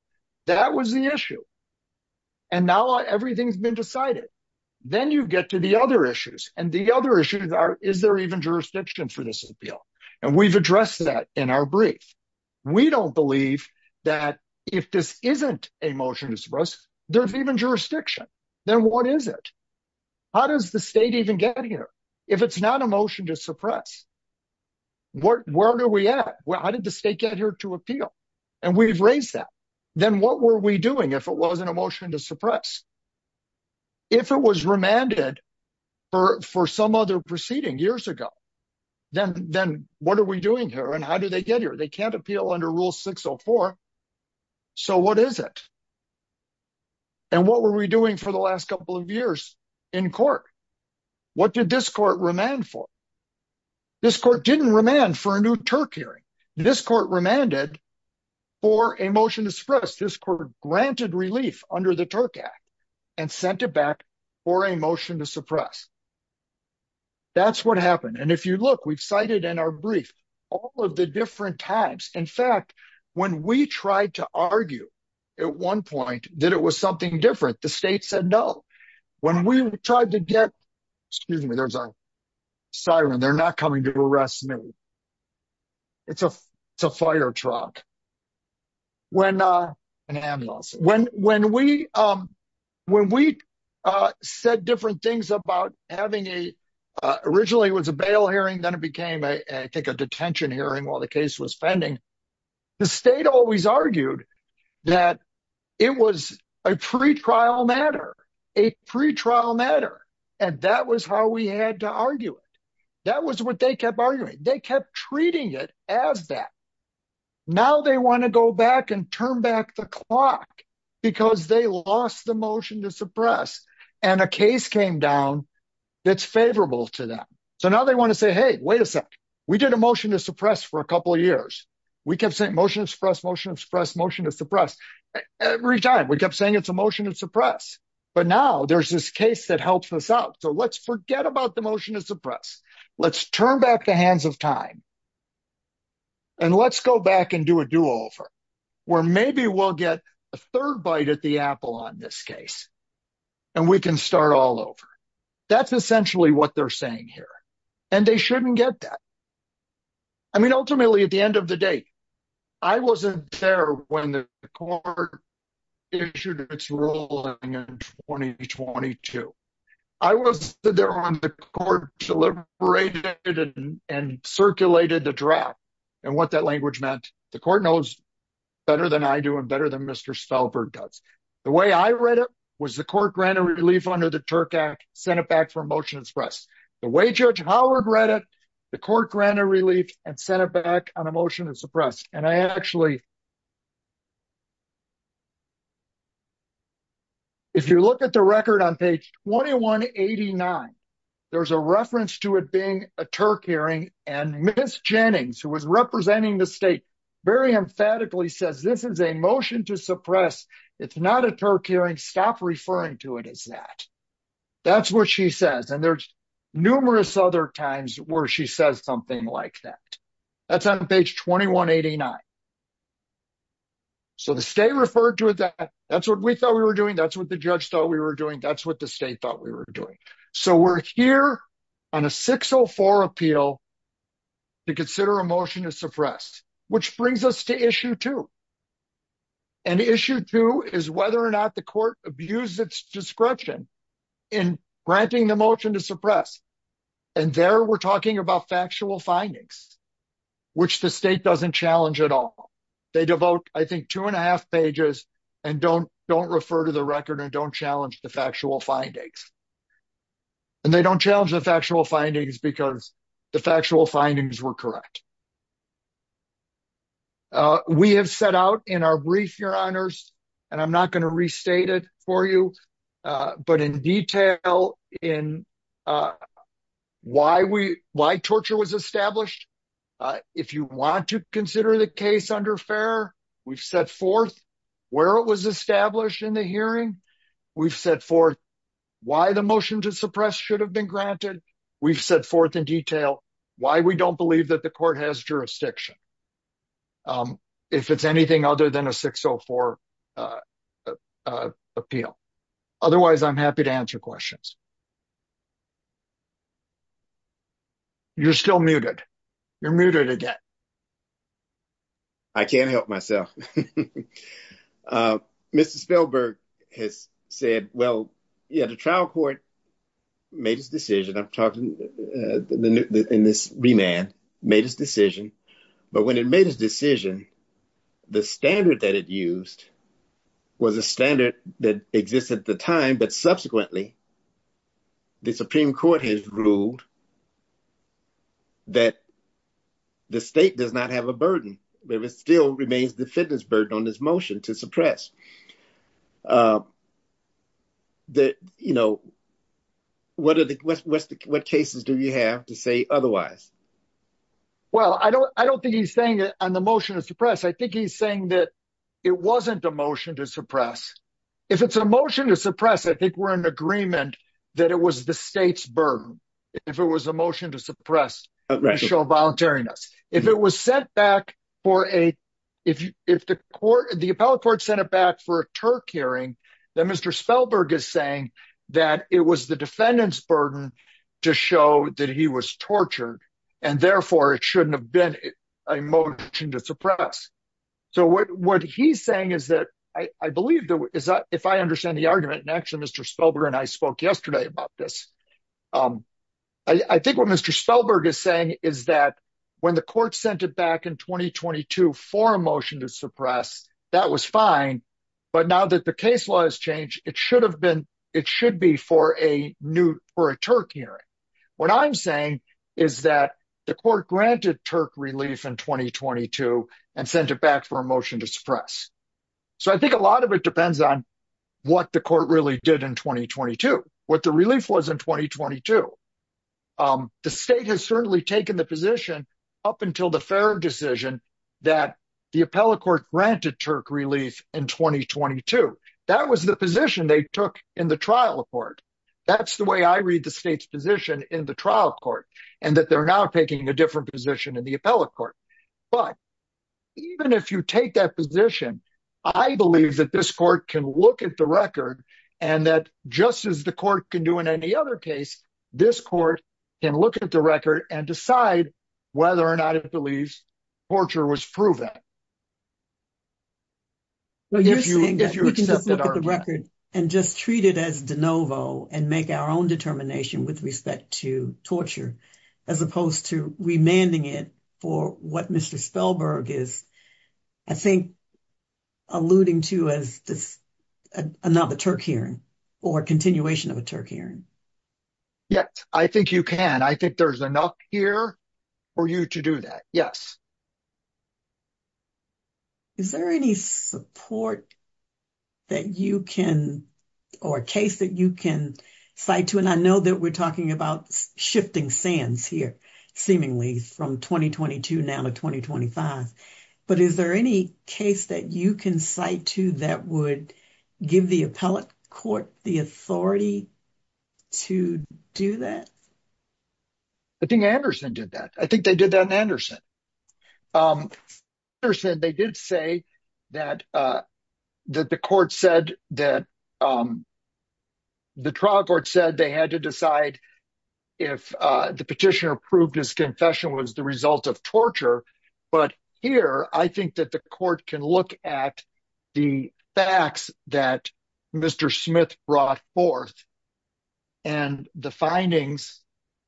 That was the issue. And now everything's been decided. Then you get to the other issues and the other issues are, is there even jurisdiction for this appeal? And we've addressed that in our brief. We don't believe that if this isn't a motion to suppress, there's even jurisdiction. Then what is it? How does the state even get here? If it's not a motion to suppress, where are we at? How did the state get here to appeal? And we've raised that. Then what were we doing if it wasn't a motion to suppress? If it was remanded for some other proceeding years ago, then what are we doing here? And how did they get here? They can't appeal under Rule 604. So what is it? And what were we doing for the last couple of years in court? What did this court remand for? This court didn't remand for a new Turk hearing. This court remanded for a motion to suppress. This court granted relief under the Turk Act and sent it back for a motion to suppress. That's what happened. And if you look, we've cited in our brief, all of the different types. In fact, when we tried to argue at one point that it was something different, the state said, no. When we tried to get, excuse me, there's a siren. They're not coming to arrest me. It's a fire truck, an ambulance. When we said different things about having a, originally it was a bail hearing, then it became, I think, a detention hearing while the case was pending. The state always argued that it was a pretrial matter, a pretrial matter. And that was how we had to argue it. That was what they kept arguing. They kept treating it as that. Now they want to go back and turn back the clock because they lost the motion to suppress and a case came down that's favorable to them. So now they want to say, hey, wait a second. We did a motion to suppress for a couple of years. We kept saying, motion to suppress, motion to suppress, motion to suppress. Every time we kept saying it's a motion to suppress. But now there's this case that helps us out. So let's forget about the motion to suppress. Let's turn back the hands of time and let's go back and do a do-over where maybe we'll get a third bite at the apple on this case and we can start all over. That's essentially what they're saying here. And they shouldn't get that. I mean, ultimately at the end of the day, I wasn't there when the court issued its ruling in 2022. I was there when the court deliberated and circulated the draft and what that language meant. The court knows better than I do and better than Mr. Stalberg does. The way I read it was the court granted relief under the Turk Act, sent it back for a motion to suppress. The way Judge Howard read it, the court granted relief and sent it back on a motion to suppress. And I actually, if you look at the record on page 2189, there's a reference to it being a Turk hearing and Ms. Jennings, who was representing the state, very emphatically says, this is a motion to suppress. It's not a Turk hearing. Stop referring to it as that. That's what she says. And there's numerous other times where she says something like that. That's on page 2189. So the state referred to it that that's what we thought we were doing. That's what the judge thought we were doing. That's what the state thought we were doing. So we're here on a 604 appeal to consider a motion to suppress, which brings us to issue two. And issue two is whether or not the court abused its discretion in granting the motion to suppress. And there we're talking about factual findings, which the state doesn't challenge at all. They devote, I think, two and a half pages and don't refer to the record and don't challenge the factual findings. And they don't challenge the factual findings because the factual findings were correct. We have set out in our brief, your honors, and I'm not going to restate it for you. But in detail, in why we why torture was established. If you want to consider the case under fair, we've set forth where it was established in the hearing. We've set forth why the motion to suppress should have been granted. We've set forth in detail why we don't believe that court has jurisdiction, if it's anything other than a 604 appeal. Otherwise, I'm happy to answer questions. You're still muted. You're muted again. I can't help myself. Mr. Spielberg has said, well, yeah, the trial court made his decision. I'm talking in this remand, made his decision. But when it made his decision, the standard that it used was a standard that existed at the time. But subsequently, the Supreme Court has ruled that the state does not have a burden, but it still remains defendant's burden on this motion to suppress. What cases do you have to say otherwise? Well, I don't think he's saying it on the motion to suppress. I think he's saying that it wasn't a motion to suppress. If it's a motion to suppress, I think we're in agreement that it was the state's burden. If it was a motion to suppress racial voluntariness. If the appellate court sent it back for a Turk hearing, then Mr. Spielberg is saying that it was the defendant's burden to show that he was tortured, and therefore it shouldn't have been a motion to suppress. So what he's saying is that, I believe, if I understand the argument, and actually Mr. Spielberg and I spoke yesterday about this, I think what Mr. Spielberg is saying is that when the court sent it back in 2022 for a motion to suppress, that was fine. But now that the case law has changed, it should be for a Turk hearing. What I'm saying is that the court granted Turk relief in 2022 and sent it back for a motion to suppress. So I think a lot of it depends on what the court really did in 2022, what the relief was in 2022. The state has certainly taken the position up until the Farrer decision that the appellate court granted Turk relief in 2022. That was the position they took in the trial court. That's the way I read the state's position in the trial court, and that they're now taking a different position in the appellate court. But even if you take that position, I believe that this court can look at the record and that, just as the court can do in any other case, this court can look at the record and decide whether or not it believes torture was proven. Well, you're saying that we can just look at the record and just treat it as de novo and make our determination with respect to torture as opposed to remanding it for what Mr. Spellberg is, I think, alluding to as another Turk hearing or continuation of a Turk hearing. Yes, I think you can. I think there's enough here for you to do that, yes. Is there any support that you can, or a case that you can cite to, and I know that we're talking about shifting sands here, seemingly, from 2022 now to 2025, but is there any case that you can cite to that would give the appellate court the authority to do that? I think Anderson did that. I think they did that in Anderson. Anderson, they did say that the trial court said they had to decide if the petitioner proved his confession was the result of torture. But here, I think that the court can look at the facts that Mr. Smith brought forth and the findings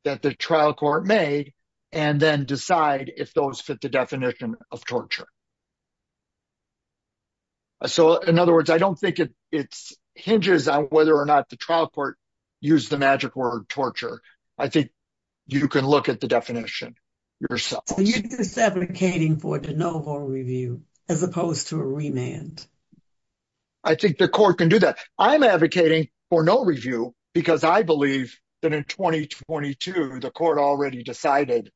that the trial court made and then decide if those fit the definition of torture. So, in other words, I don't think it hinges on whether or not the trial court used the magic word torture. I think you can look at the definition yourself. So, you're just advocating for de novo review as opposed to a remand? I think the court can do that. I'm advocating for no review because I believe that in 2022, the court already decided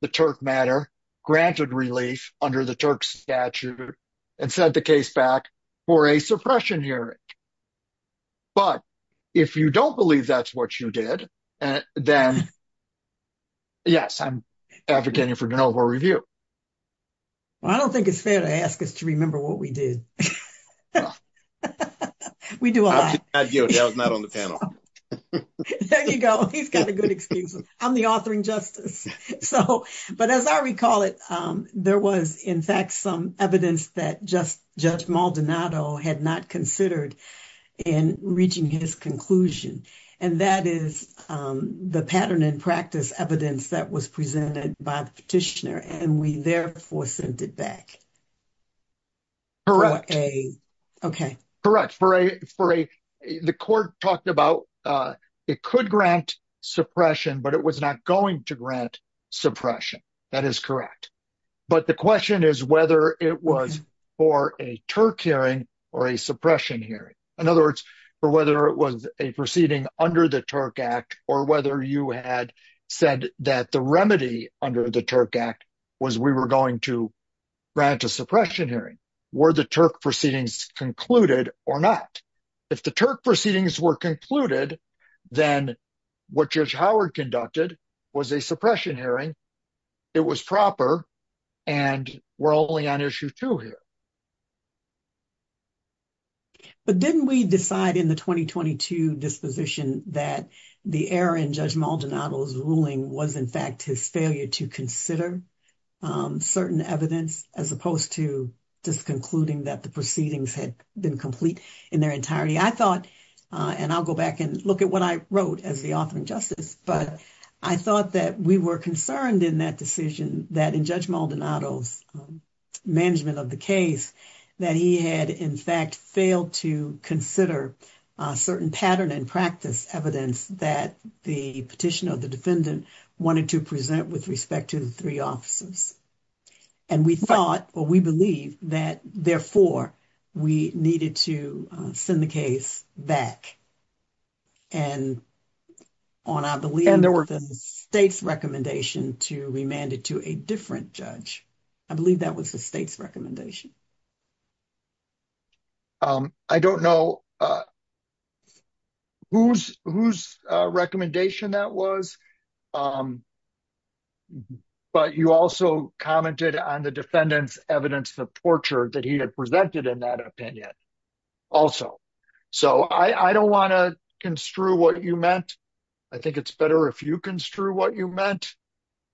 the Turk matter, granted relief under the Turk statute, and sent the case back for a suppression hearing. But if you don't believe that's what you did, then, yes, I'm advocating for de novo review. Well, I don't think it's fair to ask us to remember what we did. We do a lot. I was not on the panel. There you go. He's got a good excuse. I'm the authoring justice. But as I recall it, there was, in fact, some evidence that Judge Maldonado had not considered in reaching his conclusion. And that is the pattern and practice evidence that was presented by the petitioner, and we therefore sent it back. Correct. For a... Okay. Correct. The court talked about it could grant suppression, but it was not going to grant suppression. That is correct. But the question is whether it was for a Turk hearing or a suppression hearing. In other words, for whether it was a proceeding under the Turk Act or whether you had said that the remedy under the Turk Act was we were going to grant a suppression hearing. Were the Turk proceedings concluded or not? If the Turk proceedings were concluded, then what Judge Howard conducted was a suppression hearing. It was proper, and we're only on issue two here. But didn't we decide in the 2022 disposition that the error in Judge Maldonado's ruling was, in fact, his failure to consider certain evidence as opposed to just concluding that the proceedings had been complete in their entirety? I thought, and I'll go back and look at what I wrote as the authoring justice, but I thought that we were concerned in that decision that in Judge Maldonado's case that he had, in fact, failed to consider a certain pattern and practice evidence that the petitioner or the defendant wanted to present with respect to the three officers. And we thought, or we believe, that therefore we needed to send the case back. And on, I believe, the state's recommendation to remand it to a different judge. I believe that was the state's recommendation. I don't know whose recommendation that was, but you also commented on the defendant's evidence of torture that he had presented in that opinion also. So I don't want to construe what you meant. I think it's better if you construe what you meant.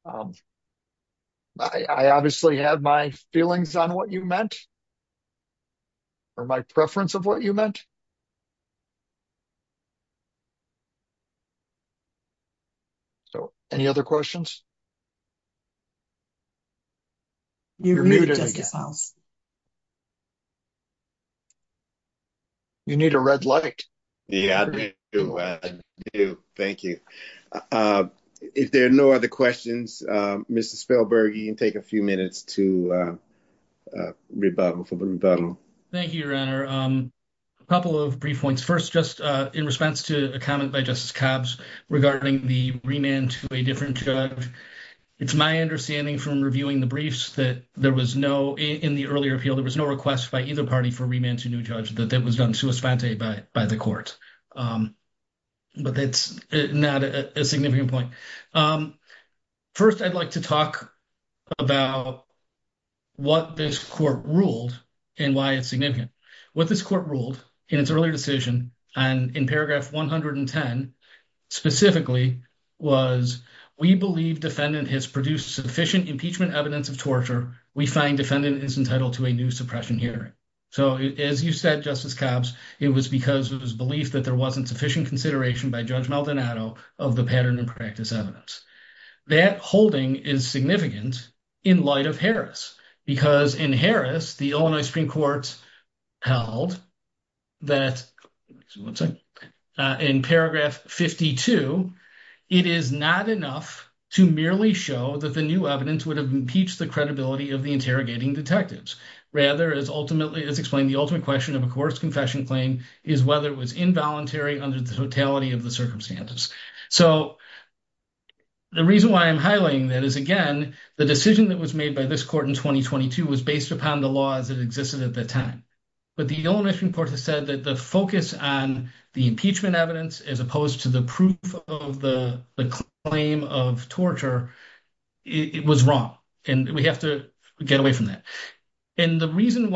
I obviously have my feelings on what you meant, or my preference of what you meant. So, any other questions? You need a red light. Yeah, I do. Thank you. If there are no other questions, Mr. Spellberg, you can take a few minutes to rebuttal. Thank you, Your Honor. A couple of brief points. First, just in response to a comment by Justice Cobbs regarding the remand to a different judge. It's my understanding from reviewing the briefs that there was no, in the earlier appeal, there was no request by either party for remand to a new judge, that that was done sui spante by the court. But that's not a significant point. First, I'd like to talk about what this court ruled and why it's significant. What this court ruled in its earlier decision, and in paragraph 110 specifically, was, we believe defendant has produced sufficient impeachment evidence of torture. We find defendant is entitled to a new suppression hearing. So, as you said, Justice Cobbs, it was because of his belief that there wasn't sufficient consideration by Judge Maldonado of the pattern and practice evidence. That holding is significant in light of Harris, because in Harris, the Illinois Supreme Court held that, in paragraph 52, it is not enough to merely show that the new evidence would have impeached the credibility of the interrogating detectives. Rather, as ultimately, as explained, the ultimate question of a coerced confession claim is whether it was involuntary under the totality of the circumstances. So, the reason why I'm highlighting that is, again, the decision that was made by this court in 2022 was based upon the laws that existed at the time. But the Illinois Supreme Court has said that the focus on the impeachment evidence, as opposed to the proof of the claim of torture, it was wrong. And we have to get away from that. And the reason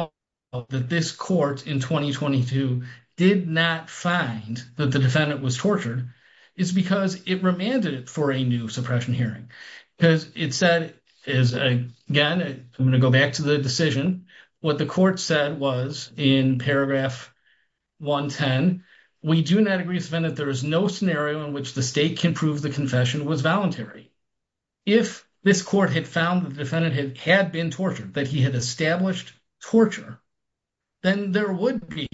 that this court in 2022 did not find that the defendant was tortured is because it remanded it for a new suppression hearing. Because it said, again, I'm going to go back to the decision, what the court said was, in paragraph 110, we do not agree with the defendant, there is no scenario in which the state can prove the confession was voluntary. If this court had found the defendant had been tortured, that he had established torture, then there would be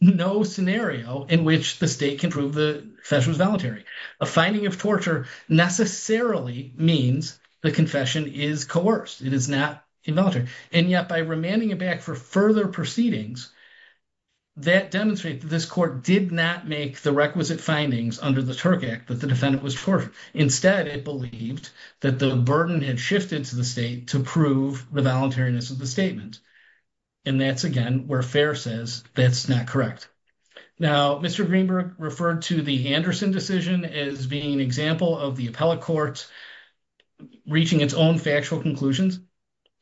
no scenario in which the state can prove the confession was voluntary. A finding of torture necessarily means the confession is coerced. It is not involuntary. And yet by remanding it back for further proceedings, that demonstrates that this court did not make the requisite findings under the Turk Act that the defendant was tortured. Instead, it believed that the burden had shifted to the state to prove the voluntariness of the statement. And that's, again, where Fair says that's not correct. Now, Mr. Greenberg referred to the Anderson decision as being an example of the appellate court reaching its own factual conclusions.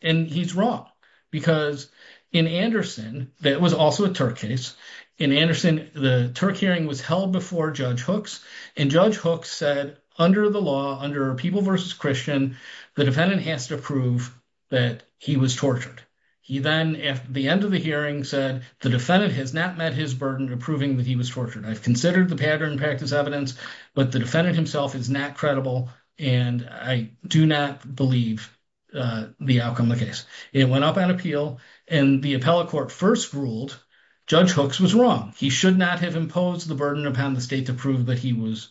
And he's wrong. Because in Anderson, that was also a Turk case, in Anderson, the Turk hearing was held before Judge Hooks. And Judge Hooks said, under the law, under People v. Christian, the defendant has to prove that he was tortured. He then, at the end of the hearing, said the defendant has not met his burden of proving that he was tortured. I've considered the pattern in practice evidence, but the defendant himself is not credible, and I do not believe the outcome of the case. It went up on appeal, and the appellate court first ruled Judge Hooks was wrong. He should not have imposed the burden upon the state to prove that he was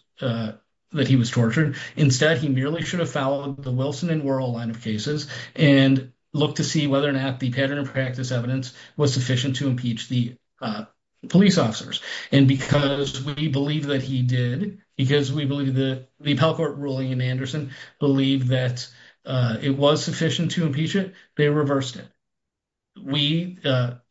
tortured. Instead, he merely should have followed the Wilson and Wuerl line of cases and looked to see whether or not the pattern in practice evidence was sufficient to impeach the police officers. And because we believe that he did, because we believe that the appellate court ruling in Anderson believed that it was sufficient to impeach it, they reversed it. We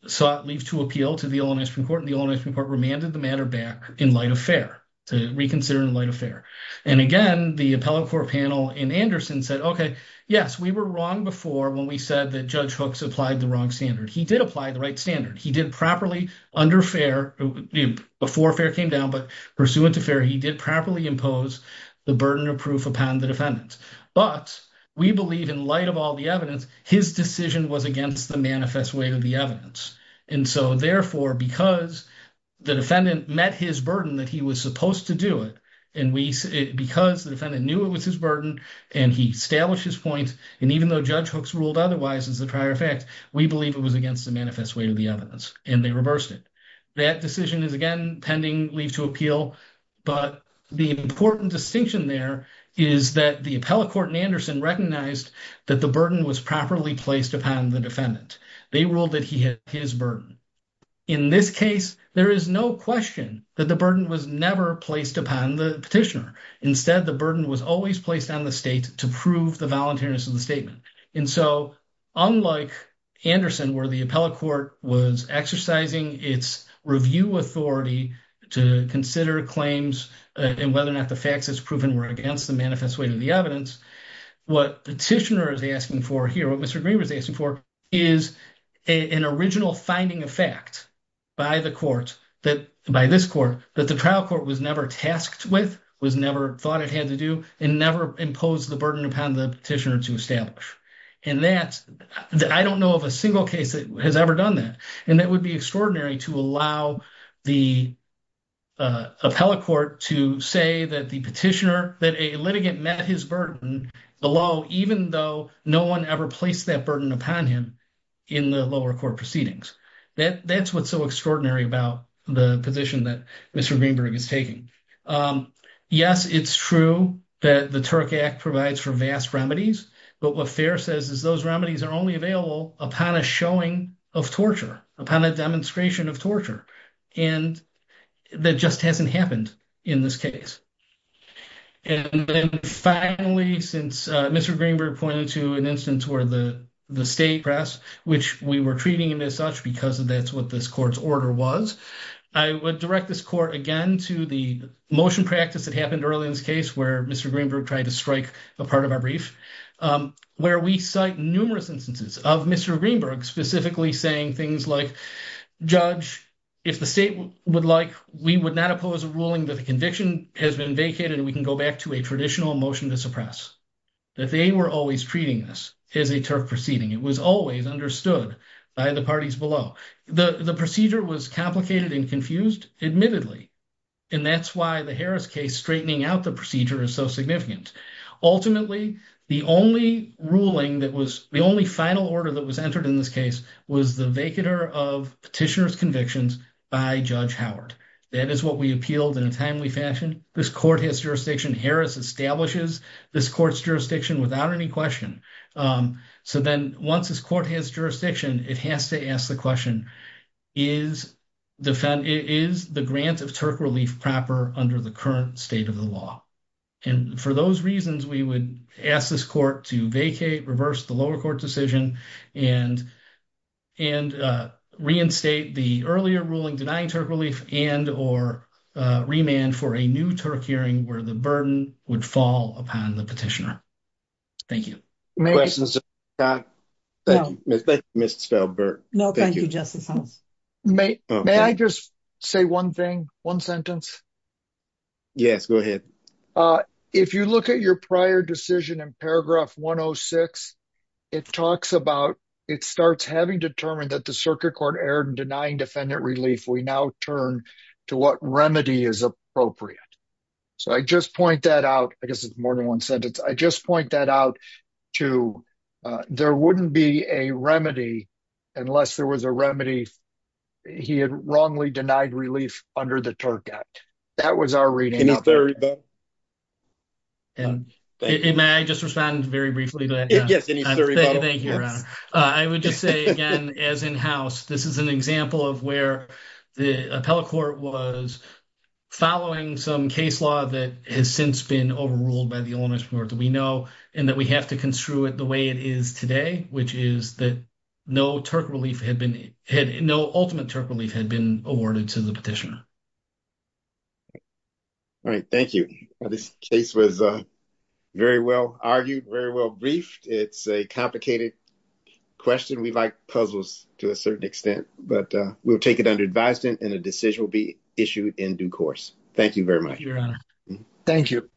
sought leave to appeal to the Ohlone Supreme Court, and the Ohlone Supreme Court remanded the matter back in light of fair, to reconsider in light of fair. And again, the appellate court panel in Anderson said, okay, yes, we were wrong before when we said that Judge Hooks applied the wrong standard. He did apply the right standard. He did properly, under fair, before fair came down, but pursuant to fair, he did properly impose the burden of proof upon the defendant. But we believe in light of all the evidence, his decision was against the manifest weight of the evidence. And so therefore, because the defendant met his burden that he was supposed to do it, and because the defendant knew it was his burden, and he established his point, and even though Judge Hooks ruled otherwise as a prior effect, we believe it was against the manifest weight of the evidence, and they reversed it. That decision is, again, pending leave to appeal. But the important distinction there is that the appellate court in Anderson recognized that the burden was properly placed upon the defendant. They ruled that he had his burden. In this case, there is no question that the burden was never placed upon the petitioner. Instead, the burden was always placed on the state to prove the statement. And so, unlike Anderson, where the appellate court was exercising its review authority to consider claims and whether or not the facts as proven were against the manifest weight of the evidence, what petitioner is asking for here, what Mr. Green was asking for, is an original finding of fact by the court that, by this court, that the trial court was never tasked with, was never thought it had to do, and never imposed the burden upon the petitioner to establish. And that, I don't know of a single case that has ever done that. And that would be extraordinary to allow the appellate court to say that the petitioner, that a litigant met his burden below, even though no one ever placed that burden upon him in the lower court proceedings. That's so extraordinary about the position that Mr. Greenberg is taking. Yes, it's true that the Turk Act provides for vast remedies, but what Fair says is those remedies are only available upon a showing of torture, upon a demonstration of torture. And that just hasn't happened in this case. And then finally, since Mr. Greenberg pointed to an instance where the state press, which we were treating him as such because that's what this court's order was, I would direct this court again to the motion practice that happened early in this case where Mr. Greenberg tried to strike a part of our brief, where we cite numerous instances of Mr. Greenberg specifically saying things like, Judge, if the state would like, we would not oppose a ruling that the conviction has been vacated and we can go back to a traditional motion to suppress. That they were always treating this as a Turk proceeding. It was always understood by the parties below. The procedure was complicated and confused, admittedly. And that's why the Harris case straightening out the procedure is so significant. Ultimately, the only ruling that was, the only final order that was entered in this case was the vacater of petitioner's convictions by Judge Howard. That is what we appealed in a timely fashion. This court has jurisdiction. Harris establishes this court's jurisdiction without any question. So then once this court has jurisdiction, it has to ask the question, is the grant of Turk relief proper under the current state of the law? And for those reasons, we would ask this court to vacate, reverse the lower court decision and reinstate the earlier Turk hearing where the burden would fall upon the petitioner. Thank you. Thank you, Justice Holmes. May I just say one thing, one sentence? Yes, go ahead. If you look at your prior decision in paragraph 106, it talks about, it starts having determined that the circuit court erred in denying defendant relief. We now turn to what remedy is appropriate. So I just point that out. I guess it's more than one sentence. I just point that out to, there wouldn't be a remedy unless there was a remedy. He had wrongly denied relief under the Turk Act. That was our reading. May I just respond very briefly to that? Yes. Thank you. I would just say again, as in house, this is an example of where the appellate court was following some case law that has since been overruled by the owner's report that we know, and that we have to construe it the way it is today, which is that no Turk relief had been, no ultimate Turk relief had been awarded to the petitioner. All right. Thank you. This case was very well argued, very well briefed. It's a complicated question. We like puzzles to a certain extent, but we'll take it under advised and a decision will be issued in due course. Thank you very much. Thank you.